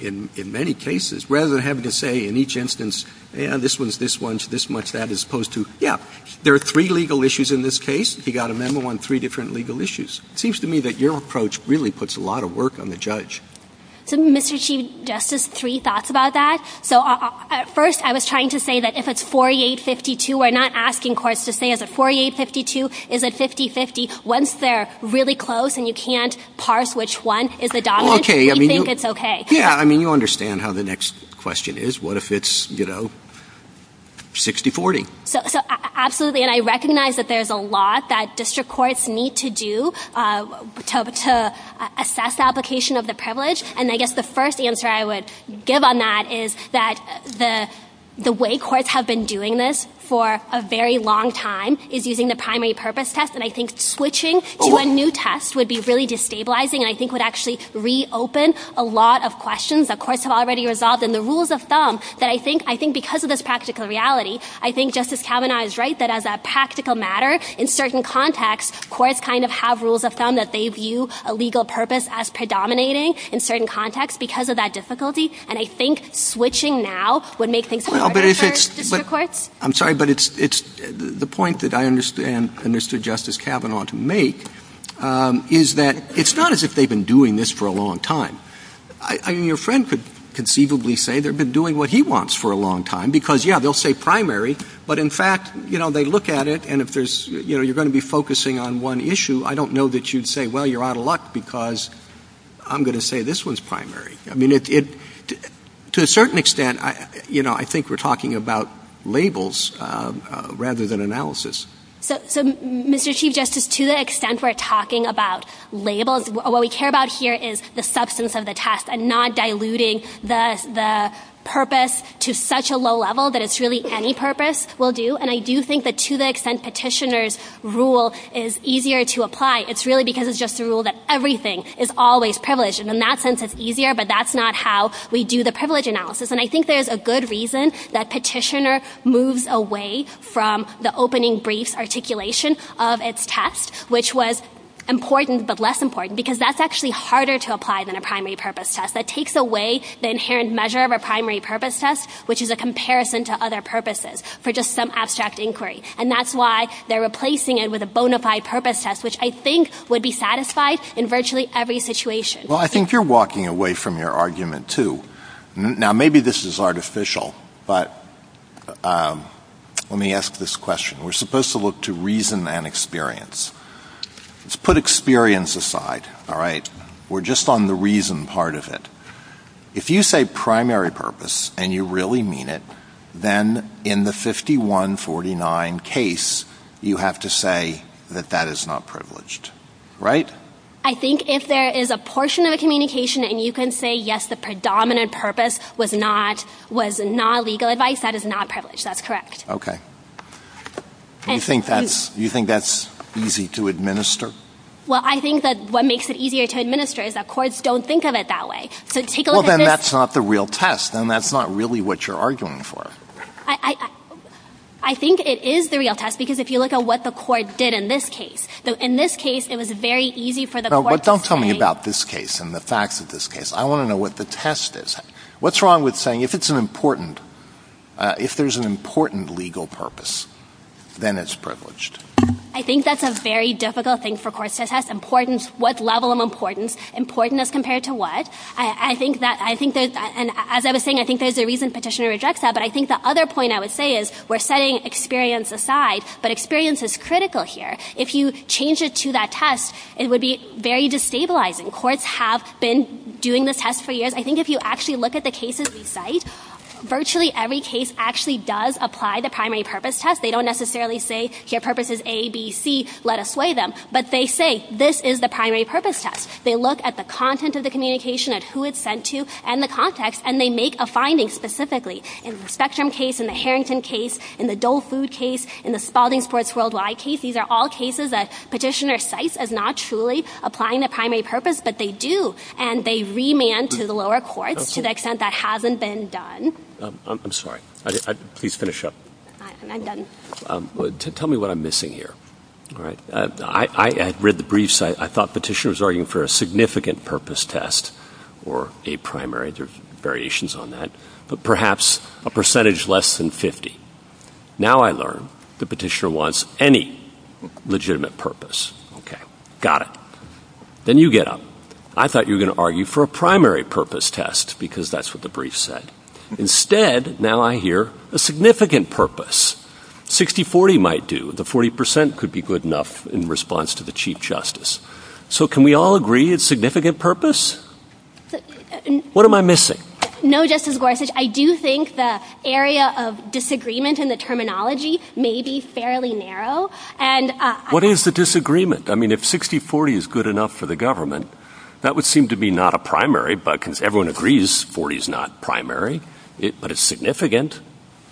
in many cases, rather than having to say in each instance, yeah, this one's this one's this much that, as opposed to, yeah, there are three legal issues in this case. He got a memo on three different legal issues. It seems to me that your approach really puts a lot of work on the judge. So, Mr. Chief Justice, three thoughts about that. So, first, I was trying to say that if it's 48-52, we're not asking courts to say, is it 48-52? Is it 50-50? Once they're really close and you can't parse which one is the dominant, we think it's okay. Yeah. I mean, you understand how the next question is. What if it's, you know, 60-40? So, absolutely. And I recognize that there's a lot that district courts need to do to assess application of the privilege. And I guess the first answer I would give on that is that the way courts have been doing this for a very long time is using the primary purpose test. And I think switching to a new test would be really destabilizing and I think would actually reopen a lot of questions that courts have already resolved. And the rules of thumb that I think because of this practical reality, I think it's a practical matter. In certain contexts, courts kind of have rules of thumb that they view a legal purpose as predominating in certain contexts because of that difficulty. And I think switching now would make things harder for district courts. I'm sorry, but it's the point that I understand and understood Justice Kavanaugh to make is that it's not as if they've been doing this for a long time. I mean, your friend could conceivably say they've been doing what he wants for a long time because, yeah, they'll say primary, but in fact, you know, they look at it and if there's, you know, you're going to be focusing on one issue, I don't know that you'd say, well, you're out of luck because I'm going to say this one's primary. I mean, to a certain extent, you know, I think we're talking about labels rather than analysis. So, Mr. Chief Justice, to the extent we're talking about labels, what we care about here is the substance of the test and not diluting the purpose to such a low level that it's really any purpose will do. And I do think that to the extent petitioner's rule is easier to apply, it's really because it's just a rule that everything is always privileged. And in that sense, it's easier, but that's not how we do the privilege analysis. And I think there's a good reason that petitioner moves away from the opening briefs articulation of its test, which was important but less important, because that's actually harder to apply than a primary purpose test. That takes away the inherent measure of a primary purpose test, which is a comparison to other purposes for just some abstract inquiry. And that's why they're replacing it with a bona fide purpose test, which I think would be satisfied in virtually every situation. Well, I think you're walking away from your argument, too. Now, maybe this is artificial, but let me ask this question. We're supposed to look to reason and experience. Let's put experience aside, all right? We're just on the reason part of it. If you say primary purpose and you really mean it, then in the 5149 case, you have to say that that is not privileged, right? I think if there is a portion of a communication and you can say, yes, the predominant purpose was not legal advice, that is not privileged. That's correct. Okay. You think that's easy to administer? Well, I think that what makes it easier to administer is that courts don't think of it that way. So take a look at this. Well, then that's not the real test. Then that's not really what you're arguing for. I think it is the real test because if you look at what the court did in this case. In this case, it was very easy for the court to say — No, but don't tell me about this case and the facts of this case. I want to know what the test is. What's wrong with saying if it's an important — if there's an important legal purpose, then it's privileged? I think that's a very difficult thing for courts to test. Importance, what level of importance? Importance as compared to what? I think that — I think that — and as I was saying, I think there's a reason Petitioner rejects that, but I think the other point I would say is we're setting experience aside, but experience is critical here. If you change it to that test, it would be very destabilizing. Courts have been doing this test for years. I think if you actually look at the cases we cite, virtually every case actually does apply the primary purpose test. They don't necessarily say, here, purpose is A, B, C, let us sway them, but they say this is the primary purpose test. They look at the content of the communication, at who it's sent to, and the context, and they make a finding specifically. In the Spectrum case, in the Harrington case, in the Dole Food case, in the Spalding Sports Worldwide case, these are all cases that Petitioner cites as not truly applying the primary purpose, but they do, and they remand to the lower courts to the extent that hasn't been done. I'm sorry. Please finish up. I'm done. Tell me what I'm missing here. All right. I read the briefs. I thought Petitioner was arguing for a significant purpose test or a primary. There's variations on that. But perhaps a percentage less than 50. Now I learn that Petitioner wants any legitimate purpose. Okay. Got it. Then you get up. I thought you were going to argue for a primary purpose test because that's what the brief said. Instead, now I hear a significant purpose. 60-40 might do. The 40 percent could be good enough in response to the Chief Justice. So can we all agree it's significant purpose? What am I missing? No, Justice Gorsuch. I do think the area of disagreement in the terminology may be fairly narrow. What is the disagreement? I mean, if 60-40 is good enough for the government, that would seem to be not a primary, but it's significant.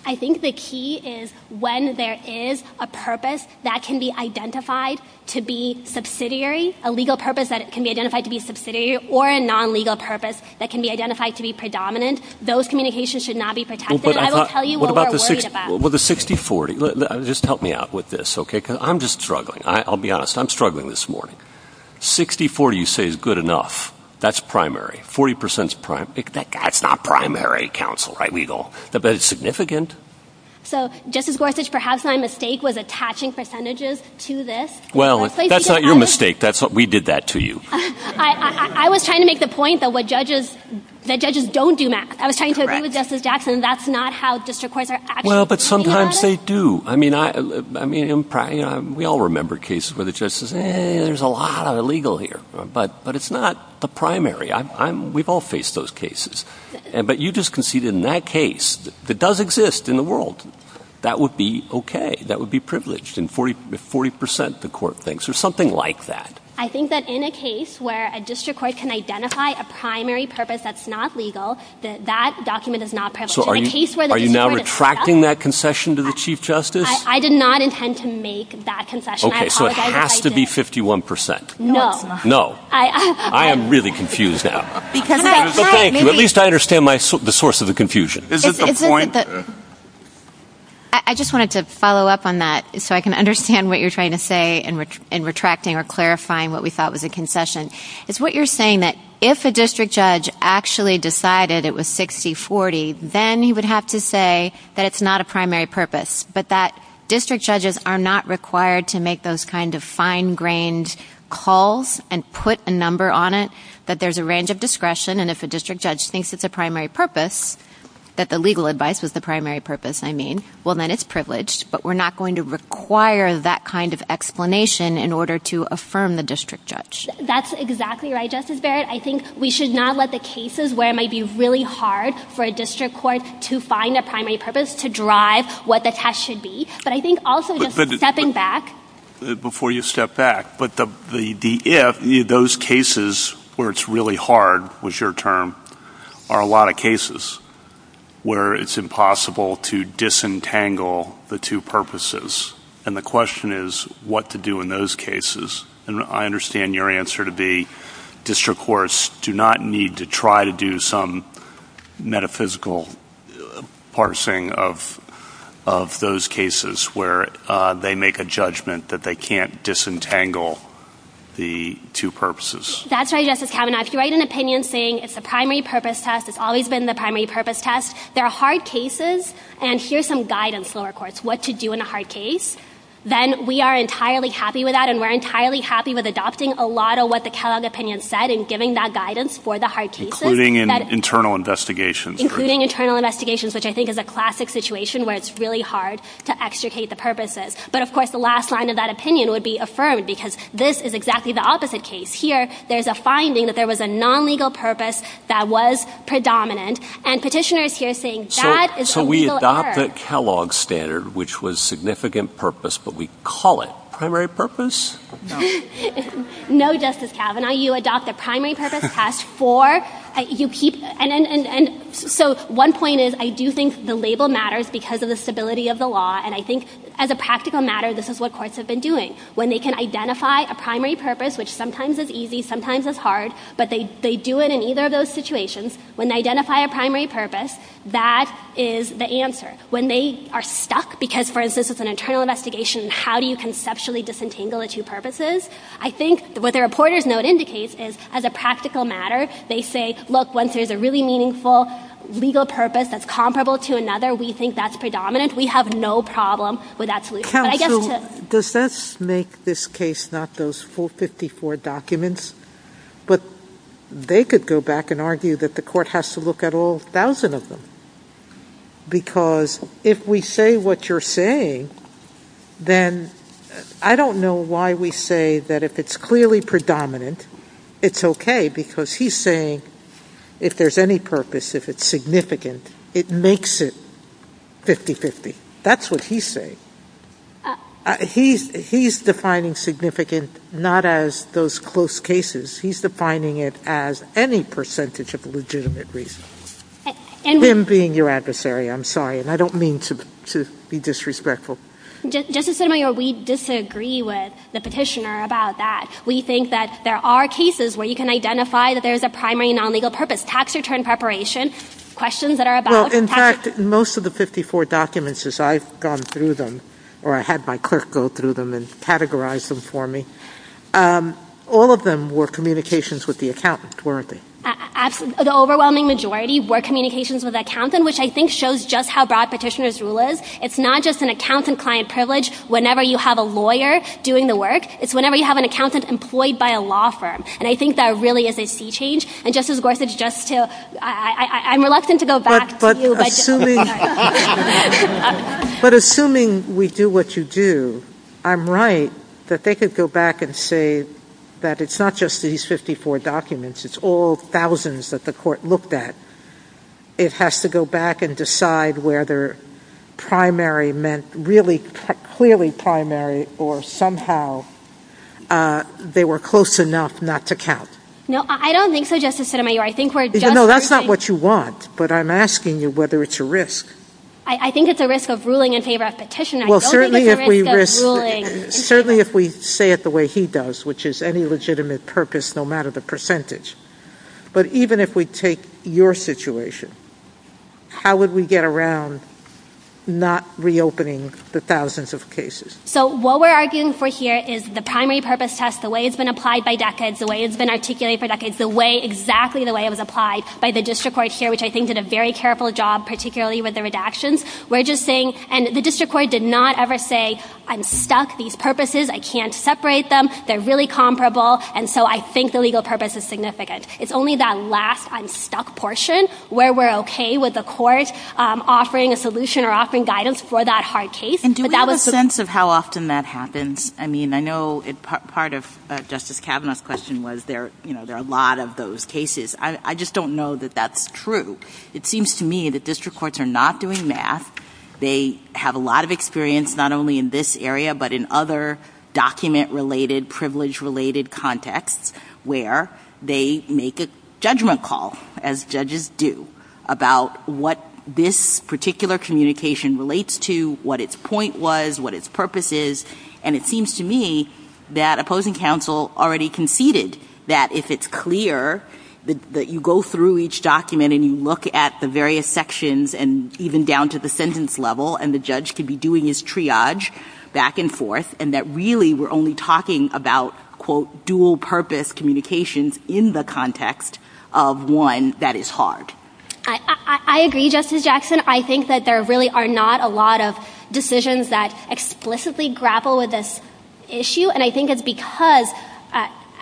I think the key is when there is a purpose that can be identified to be subsidiary, a legal purpose that can be identified to be subsidiary or a non-legal purpose that can be identified to be predominant, those communications should not be protected. I will tell you what we're worried about. Well, the 60-40, just help me out with this, okay, because I'm just struggling. I'll be honest. I'm struggling this morning. 60-40 you say is good enough. That's primary. 40 percent is primary. That's not primary counsel, right, legal? But it's significant. So, Justice Gorsuch, perhaps my mistake was attaching percentages to this. Well, that's not your mistake. We did that to you. I was trying to make the point, though, that judges don't do math. I was trying to agree with Justice Jackson. That's not how district courts are actually treated. Well, but sometimes they do. I mean, we all remember cases where the judge says, hey, there's a lot of legal here. But it's not the primary. We've all faced those cases. But you just conceded in that case that does exist in the world. That would be okay. That would be privileged if 40 percent the court thinks, or something like that. I think that in a case where a district court can identify a primary purpose that's not legal, that document is not privileged. So are you now retracting that concession to the Chief Justice? I did not intend to make that concession. I apologize. Okay, so it has to be 51 percent. No. No. I am really confused now. Thank you. At least I understand the source of the confusion. Is it the point? I just wanted to follow up on that so I can understand what you're trying to say in retracting or clarifying what we thought was a concession. It's what you're saying, that if a district judge actually decided it was 60-40, then he would have to say that it's not a primary purpose, but that district judges are not required to make those kind of fine-grained calls and put a number on it that there's a range of discretion. And if a district judge thinks it's a primary purpose, that the legal advice was the primary purpose, I mean, well, then it's privileged. But we're not going to require that kind of explanation in order to affirm the district judge. That's exactly right, Justice Barrett. I think we should not let the cases where it might be really hard for a district court to find a primary purpose to drive what the test should be. But I think also just stepping back. Before you step back, but the if, those cases where it's really hard, was your term, are a lot of cases where it's impossible to disentangle the two purposes. And the question is what to do in those cases. And I understand your answer to be district courts do not need to try to do some metaphysical parsing of those cases where they make a judgment that they can't disentangle the two purposes. That's right, Justice Kavanaugh. If you write an opinion saying it's a primary purpose test, it's always been the primary purpose test, there are hard cases and here's some guidance, lower courts, what to do in a hard case. Then we are entirely happy with that and we're entirely happy with adopting a lot of what the Kellogg opinion said and giving that guidance for the hard cases. Including internal investigations. Including internal investigations, which I think is a classic situation where it's really hard to extricate the purposes. But of course the last line of that opinion would be affirmed because this is exactly the opposite case. Here there's a finding that there was a non-legal purpose that was predominant and petitioners here saying that is a legal error. So we adopt the Kellogg standard, which was significant purpose, but we call it primary purpose? No, Justice Kavanaugh. Now you adopt the primary purpose test for? So one point is I do think the label matters because of the stability of the law and I think as a practical matter this is what courts have been doing. When they can identify a primary purpose, which sometimes is easy, sometimes is hard, but they do it in either of those situations. When they identify a primary purpose, that is the answer. When they are stuck, because for instance it's an internal investigation and how do you conceptually disentangle the two purposes? I think what the reporter's note indicates is as a practical matter they say, look, once there's a really meaningful legal purpose that's comparable to another, we think that's predominant. We have no problem with that solution. Counsel, does this make this case not those full 54 documents? But they could go back and argue that the court has to look at all thousand of them because if we say what you're saying, then I don't know why we say that if it's clearly predominant, it's okay because he's saying if there's any purpose, if it's significant, it makes it 50-50. That's what he's saying. He's defining significant not as those close cases. He's defining it as any percentage of legitimate reason. Him being your adversary, I'm sorry. I don't mean to be disrespectful. Justice Sotomayor, we disagree with the petitioner about that. We think that there are cases where you can identify that there's a primary non-legal purpose, tax return preparation, questions that are about tax returns. In fact, most of the 54 documents as I've gone through them, or I had my clerk go through them and categorize them for me, all of them were communications with the accountant, weren't they? The overwhelming majority were communications with the accountant, which I think shows just how broad petitioner's rule is. It's not just an accountant client privilege whenever you have a lawyer doing the work. It's whenever you have an accountant employed by a law firm. I think that really is a sea change. Justice Gorsuch, I'm reluctant to go back to you. But assuming we do what you do, I'm right that they could go back and say that it's not just these 54 documents, it's all thousands that the court looked at. It has to go back and decide whether primary meant really clearly primary or somehow they were close enough not to count. No, I don't think so, Justice Sotomayor. No, that's not what you want. But I'm asking you whether it's a risk. I think it's a risk of ruling in favor of petition. I don't think it's a risk of ruling in favor of petition. Certainly if we say it the way he does, which is any legitimate purpose no matter the percentage. But even if we take your situation, how would we get around not reopening the thousands of cases? So what we're arguing for here is the primary purpose test, the way it's been applied by decades, the way it's been articulated for decades, the way exactly the way it was applied by the district court here, which I think did a very careful job, particularly with the redactions. We're just saying, and the district court did not ever say, I'm stuck, these purposes, I can't separate them. They're really comparable. And so I think the legal purpose is significant. It's only that last I'm stuck portion where we're okay with the court offering a solution or offering guidance for that hard case. And do we have a sense of how often that happens? I mean, I know part of Justice Kavanaugh's question was there are a lot of those cases. I just don't know that that's true. It seems to me that district courts are not doing math. They have a lot of experience not only in this area, but in other document-related, privilege-related contexts, where they make a judgment call, as judges do, about what this particular communication relates to, what its point was, what its purpose is. And it seems to me that opposing counsel already conceded that if it's clear that you go through each document and you look at the various sections and even down to the sentence level and the judge can be doing his triage back and forth, and that really we're only talking about, quote, dual-purpose communications in the context of one that is hard. I agree, Justice Jackson. I think that there really are not a lot of decisions that explicitly grapple with this issue. And I think it's because,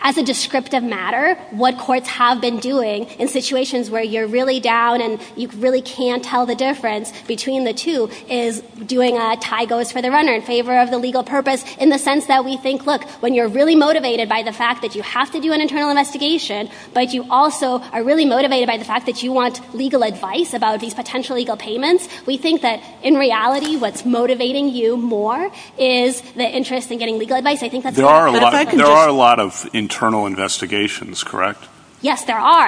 as a descriptive matter, what courts have been doing in situations where you're really down and you really can't tell the difference between the two is doing a tie-goes-for-the-runner in favor of the legal purpose in the sense that we think, look, when you're really motivated by the fact that you have to do an internal investigation, but you also are really motivated by the fact that you want legal advice about these potential legal payments, we think that, in reality, what's motivating you more is the interest in getting legal advice. I think that's what I meant. There are a lot of internal investigations, correct? Yes, there are.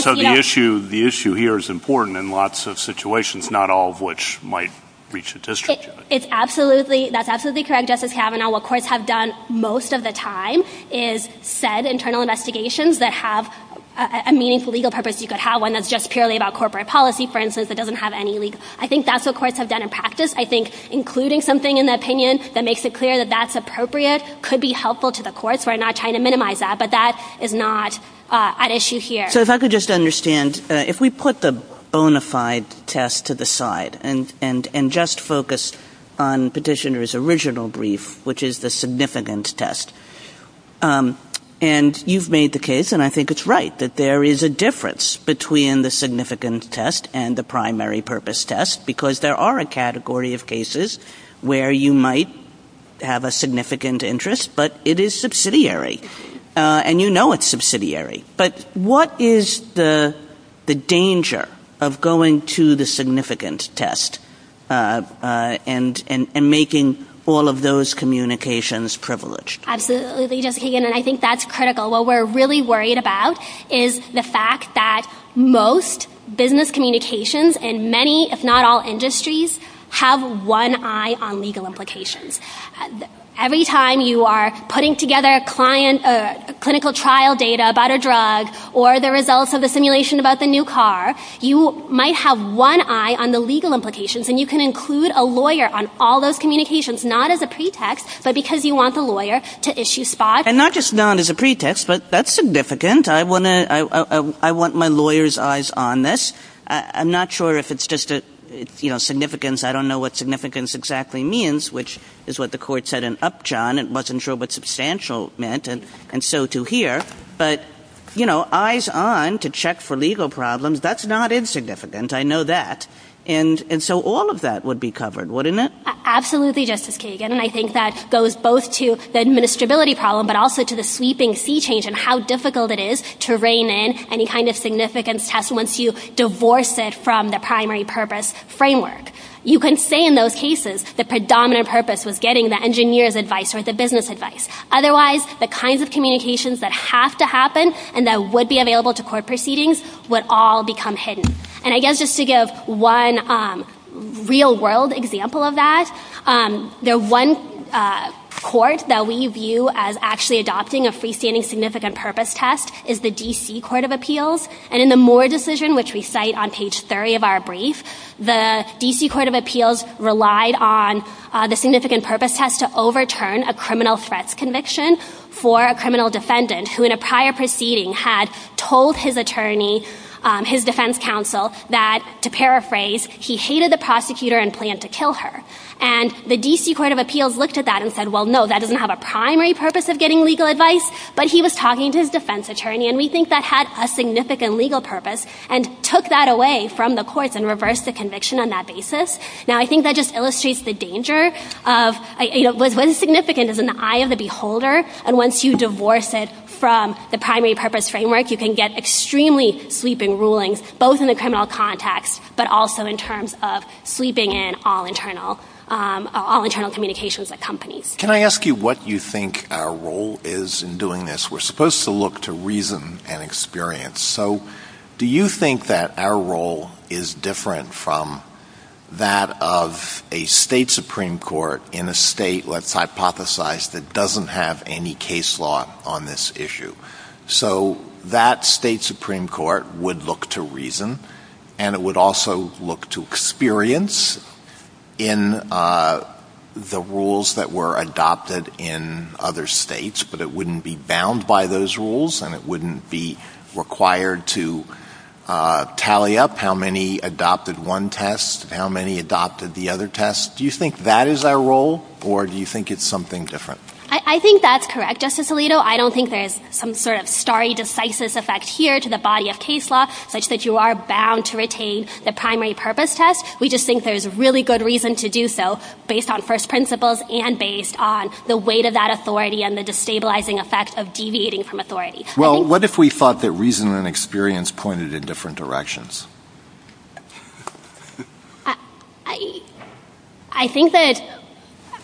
So the issue here is important in lots of situations, not all of which might reach a district judge. That's absolutely correct, Justice Kavanaugh. What courts have done most of the time is said internal investigations that have a meaningful legal purpose. You could have one that's just purely about corporate policy, for instance, that doesn't have any legal. I think that's what courts have done in practice. I think including something in the opinion that makes it clear that that's appropriate could be helpful to the courts. We're not trying to minimize that, but that is not at issue here. So if I could just understand, if we put the bona fide test to the side and just focus on Petitioner's original brief, which is the significant test, and you've made the case, and I think it's right, that there is a difference between the significant test and the primary purpose test because there are a category of cases where you might have a significant interest, but it is subsidiary, and you know it's subsidiary. But what is the danger of going to the significant test and making all of those communications privileged? Absolutely, Justice Kagan, and I think that's critical. What we're really worried about is the fact that most business communications in many, if not all, industries have one eye on legal implications. Every time you are putting together clinical trial data about a drug or the results of the simulation about the new car, you might have one eye on the legal implications, and you can include a lawyer on all those communications, not as a pretext, but because you want the lawyer to issue spots. And not just not as a pretext, but that's significant. I want my lawyer's eyes on this. I'm not sure if it's just significance. I don't know what significance exactly means, which is what the court said in Upjohn. It wasn't sure what substantial meant, and so to here. But, you know, eyes on to check for legal problems, that's not insignificant. I know that. And so all of that would be covered, wouldn't it? Absolutely, Justice Kagan, and I think that goes both to the administrability problem, but also to the sweeping sea change and how difficult it is to rein in any kind of significance test once you divorce it from the primary purpose framework. You can say in those cases the predominant purpose was getting the engineer's advice or the business advice. Otherwise, the kinds of communications that have to happen and that would be available to court proceedings would all become hidden. And I guess just to give one real-world example of that, the one court that we view as actually adopting a freestanding significant purpose test is the D.C. Court of Appeals, and in the Moore decision, which we cite on page 30 of our brief, the D.C. Court of Appeals relied on the significant purpose test to overturn a criminal threats conviction for a criminal defendant who in a prior proceeding had told his attorney, his defense counsel, that, to paraphrase, he hated the prosecutor and planned to kill her. And the D.C. Court of Appeals looked at that and said, well, no, that doesn't have a primary purpose of getting legal advice, but he was talking to his defense attorney, and we think that had a significant legal purpose and took that away from the courts and reversed the conviction on that basis. Now, I think that just illustrates the danger of what is significant is in the eye of the beholder, and once you divorce it from the primary purpose framework, you can get extremely sweeping rulings, both in the criminal context, but also in terms of sweeping in all internal communications at companies. Can I ask you what you think our role is in doing this? We're supposed to look to reason and experience. So do you think that our role is different from that of a state supreme court in a state, let's hypothesize, that doesn't have any case law on this issue? So that state supreme court would look to reason, and it would also look to experience in the rules that were adopted in other states, but it wouldn't be bound by those rules and it wouldn't be required to tally up how many adopted one test and how many adopted the other test. Do you think that is our role, or do you think it's something different? I think that's correct, Justice Alito. I don't think there's some sort of starry, decisive effect here to the body of case law such that you are bound to retain the primary purpose test. We just think there's really good reason to do so based on first principles and based on the weight of that authority and the destabilizing effect of deviating from authority. Well, what if we thought that reason and experience pointed in different directions? I think that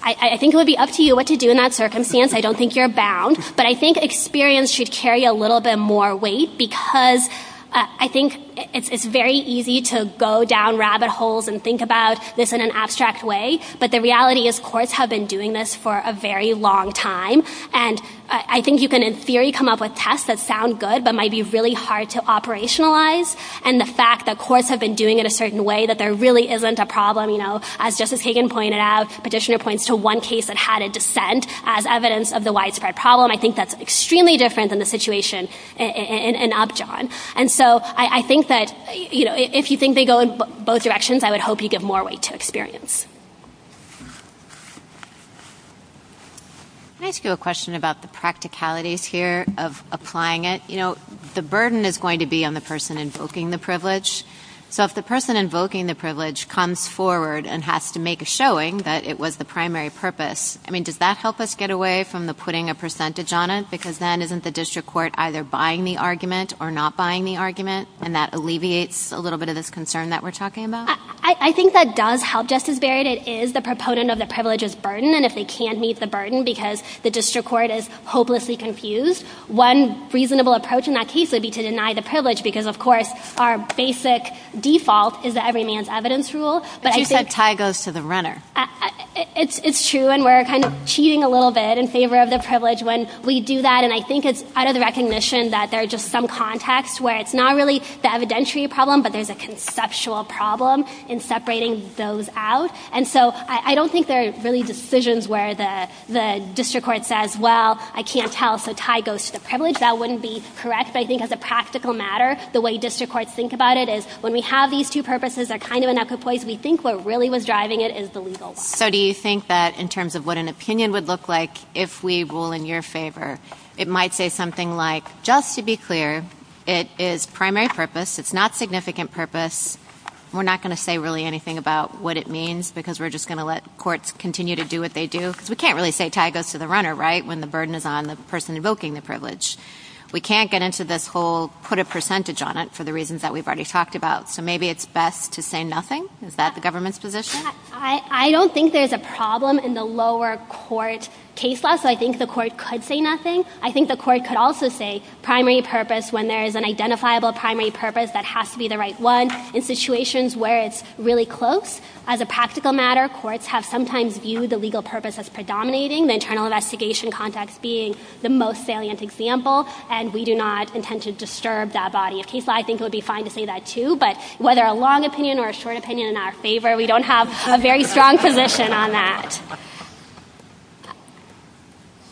it would be up to you what to do in that circumstance. I don't think you're bound, but I think experience should carry a little bit more weight because I think it's very easy to go down rabbit holes and think about this in an abstract way, but the reality is courts have been doing this for a very long time, and I think you can, in theory, come up with tests that sound good but might be really hard to operationalize, and the fact that courts have been doing it a certain way, that there really isn't a problem. As Justice Kagan pointed out, Petitioner points to one case that had a dissent as evidence of the widespread problem. I think that's extremely different than the situation in Upjohn. And so I think that if you think they go in both directions, I would hope you give more weight to experience. Can I ask you a question about the practicalities here of applying it? The burden is going to be on the person invoking the privilege, so if the person invoking the privilege comes forward and has to make a showing that it was the primary purpose, I mean, does that help us get away from putting a percentage on it? Because then isn't the district court either buying the argument or not buying the argument, and that alleviates a little bit of this concern that we're talking about? I think that does help, Justice Barrett. It is the proponent of the privilege's burden, and if they can't meet the burden because the district court is hopelessly confused, one reasonable approach in that case would be to deny the privilege because, of course, our basic default is that every man's evidence rule. But you said tie goes to the runner. It's true, and we're kind of cheating a little bit in favor of the privilege when we do that, and I think it's out of the recognition that there are just some contexts where it's not really the evidentiary problem, but there's a conceptual problem in separating those out. And so I don't think there are really decisions where the district court says, That wouldn't be correct, but I think as a practical matter, the way district courts think about it is when we have these two purposes, they're kind of in equipoise, we think what really was driving it is the legal one. So do you think that in terms of what an opinion would look like if we rule in your favor, it might say something like, just to be clear, it is primary purpose, it's not significant purpose, we're not going to say really anything about what it means because we're just going to let courts continue to do what they do? Because we can't really say tie goes to the runner, right, when the burden is on the person invoking the privilege. We can't get into this whole put a percentage on it for the reasons that we've already talked about. So maybe it's best to say nothing? Is that the government's position? I don't think there's a problem in the lower court case law, so I think the court could say nothing. I think the court could also say primary purpose when there is an identifiable primary purpose that has to be the right one in situations where it's really close. As a practical matter, courts have sometimes viewed the legal purpose as predominating, the internal investigation context being the most salient example, and we do not intend to disturb that body of case law. I think it would be fine to say that too, but whether a long opinion or a short opinion in our favor, we don't have a very strong position on that.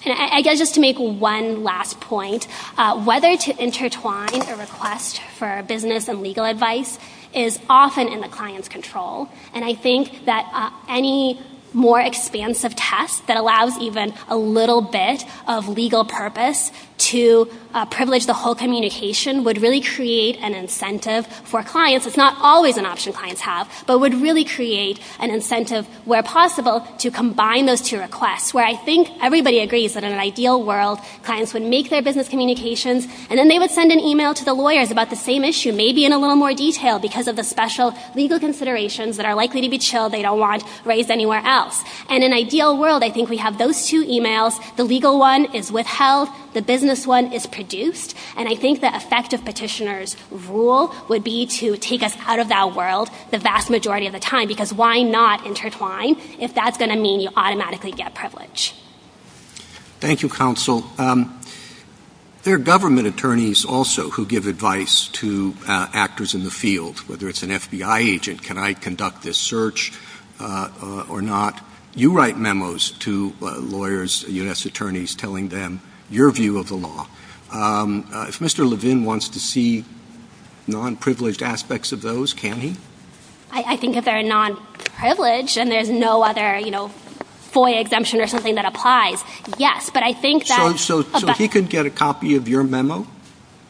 I guess just to make one last point, whether to intertwine a request for business and legal advice is often in the client's control, and I think that any more expansive test that allows even a little bit of legal purpose to privilege the whole communication would really create an incentive for clients, it's not always an option clients have, but would really create an incentive where possible to combine those two requests, where I think everybody agrees that in an ideal world, clients would make their business communications and then they would send an email to the lawyers about the same issue, maybe in a little more detail because of the special legal considerations that are likely to be chilled, they don't want raised anywhere else. And in an ideal world, I think we have those two emails, the legal one is withheld, the business one is produced, and I think the effective petitioner's rule would be to take us out of that world the vast majority of the time, because why not intertwine if that's going to mean you automatically get privilege? Thank you, counsel. There are government attorneys also who give advice to actors in the field, whether it's an FBI agent, can I conduct this search or not? You write memos to lawyers, U.S. attorneys, telling them your view of the law. If Mr. Levin wants to see non-privileged aspects of those, can he? I think if they're non-privileged and there's no other FOIA exemption or something that applies, yes, but I think that... So he could get a copy of your memo in this case?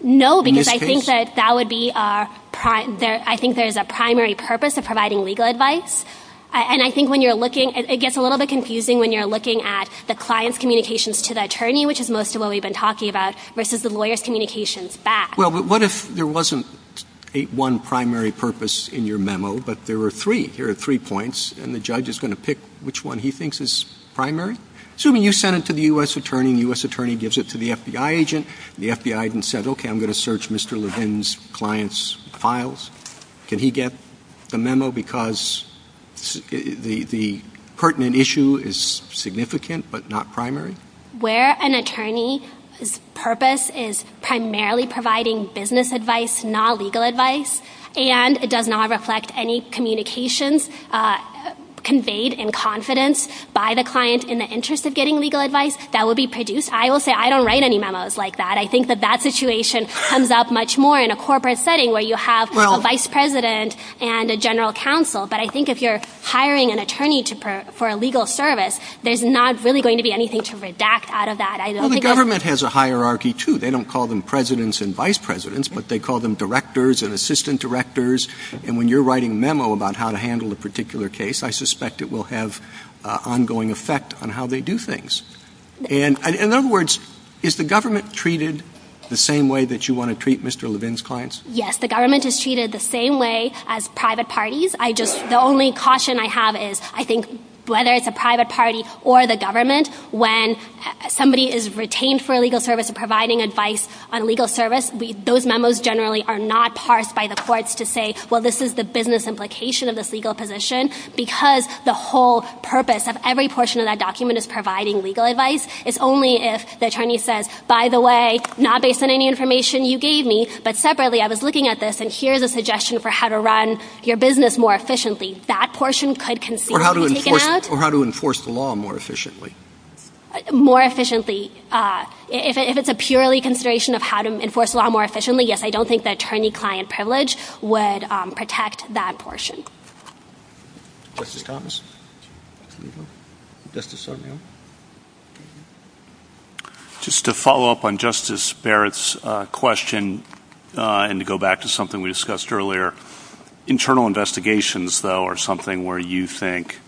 No, because I think that that would be our, I think there's a primary purpose of providing legal advice, and I think when you're looking, it gets a little bit confusing when you're looking at the client's communications to the attorney, which is most of what we've been talking about, versus the lawyer's communications back. Well, what if there wasn't one primary purpose in your memo, but there were three? Here are three points, and the judge is going to pick which one he thinks is primary. Assuming you sent it to the U.S. attorney and the U.S. attorney gives it to the FBI agent, and the FBI agent said, okay, I'm going to search Mr. Levin's client's files, can he get the memo because the pertinent issue is significant but not primary? Where an attorney's purpose is primarily providing business advice, not legal advice, and it does not reflect any communications conveyed in confidence by the client in the interest of getting legal advice that would be produced, I will say I don't write any memos like that. I think that that situation comes up much more in a corporate setting where you have a vice president and a general counsel. But I think if you're hiring an attorney for a legal service, there's not really going to be anything to redact out of that. Well, the government has a hierarchy, too. They don't call them presidents and vice presidents, but they call them directors and assistant directors, and when you're writing a memo about how to handle a particular case, I suspect it will have ongoing effect on how they do things. In other words, is the government treated the same way that you want to treat Mr. Levin's clients? Yes, the government is treated the same way as private parties. The only caution I have is I think whether it's a private party or the government, when somebody is retained for a legal service and providing advice on a legal service, those memos generally are not parsed by the courts to say, well, this is the business implication of this legal position, because the whole purpose of every portion of that document is providing legal advice. It's only if the attorney says, by the way, not based on any information you gave me, but separately I was looking at this, and here's a suggestion for how to run your business more efficiently. That portion could conceivably be taken out. Or how to enforce the law more efficiently. More efficiently. If it's a purely consideration of how to enforce the law more efficiently, yes, I don't think the attorney-client privilege would protect that portion. Justice Thomas? Justice Sotomayor? Just to follow up on Justice Barrett's question and to go back to something we discussed earlier, internal investigations, though, are something where you think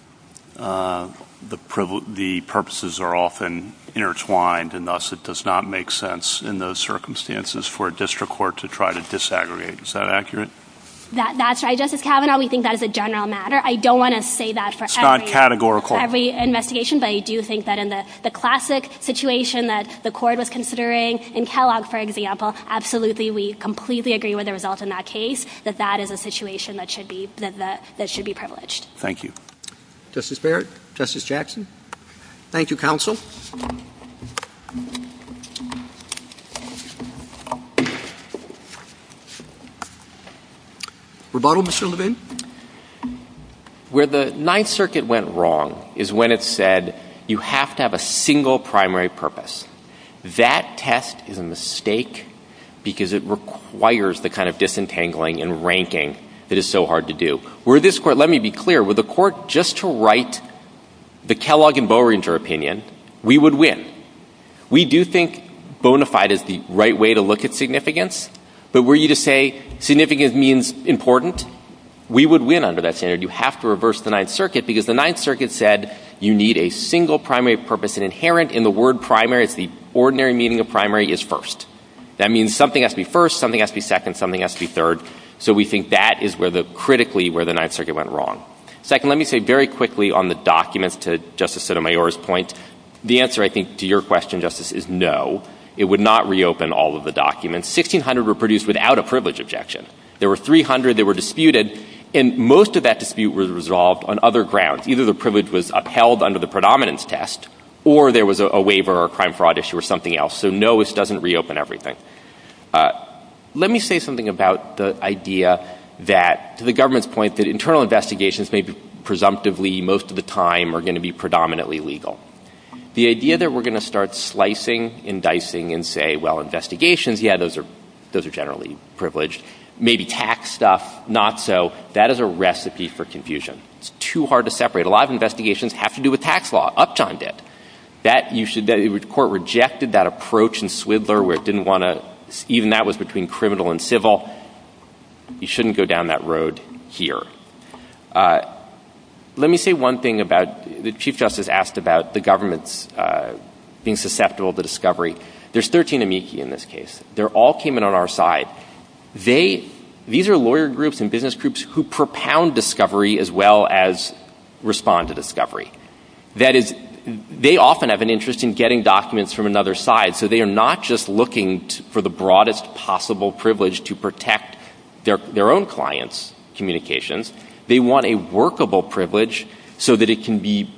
the purposes are often intertwined, and thus it does not make sense in those circumstances for a district court to try to disaggregate. Is that accurate? That's right, Justice Kavanaugh. We think that is a general matter. It's not categorical. But I do think that in the classic situation that the court was considering in Kellogg, for example, absolutely we completely agree with the result in that case, that that is a situation that should be privileged. Thank you. Justice Barrett? Justice Jackson? Rebuttal, Mr. Levin? Where the Ninth Circuit went wrong is when it said you have to have a single primary purpose. That test is a mistake because it requires the kind of disentangling and ranking that is so hard to do. Let me be clear. Were the court just to write the Kellogg and Boehringer opinion, we would win. We do think bona fide is the right way to look at significance. But were you to say significance means important, we would win under that standard. You have to reverse the Ninth Circuit because the Ninth Circuit said you need a single primary purpose, and inherent in the word primary, it's the ordinary meaning of primary, is first. That means something has to be first, something has to be second, something has to be third. So we think that is critically where the Ninth Circuit went wrong. Second, let me say very quickly on the documents, to Justice Sotomayor's point, the answer, I think, to your question, Justice, is no. It would not reopen all of the documents. 1,600 were produced without a privilege objection. There were 300 that were disputed, and most of that dispute was resolved on other grounds. Either the privilege was upheld under the predominance test, or there was a waiver or a crime fraud issue or something else. So no, this doesn't reopen everything. Let me say something about the idea that, to the government's point, that internal investigations may be presumptively, most of the time, are going to be predominantly legal. The idea that we're going to start slicing and dicing and say, well, investigations, yeah, those are generally privileged, maybe tax stuff, not so, that is a recipe for confusion. It's too hard to separate. A lot of investigations have to do with tax law. Upjohn did. The court rejected that approach in Swindler where it didn't want to, even that was between criminal and civil. You shouldn't go down that road here. Let me say one thing about, the Chief Justice asked about the government's being susceptible to discovery. There's 13 amici in this case. They all came in on our side. These are lawyer groups and business groups who propound discovery as well as respond to discovery. That is, they often have an interest in getting documents from another side, so they are not just looking for the broadest possible privilege to protect their own clients' communications, they want a workable privilege so that it can be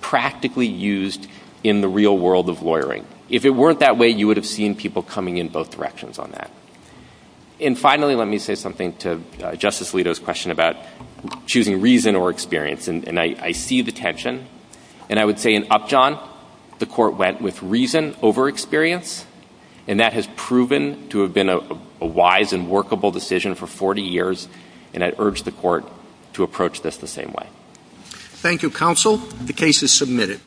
practically used in the real world of lawyering. If it weren't that way, you would have seen people coming in both directions on that. And finally, let me say something to Justice Alito's question about choosing reason or experience, and I see the tension, and I would say in Upjohn, the court went with reason over experience, and that has proven to have been a wise and workable decision for 40 years, and I urge the court to approach this the same way. Thank you, Counsel. The case is submitted.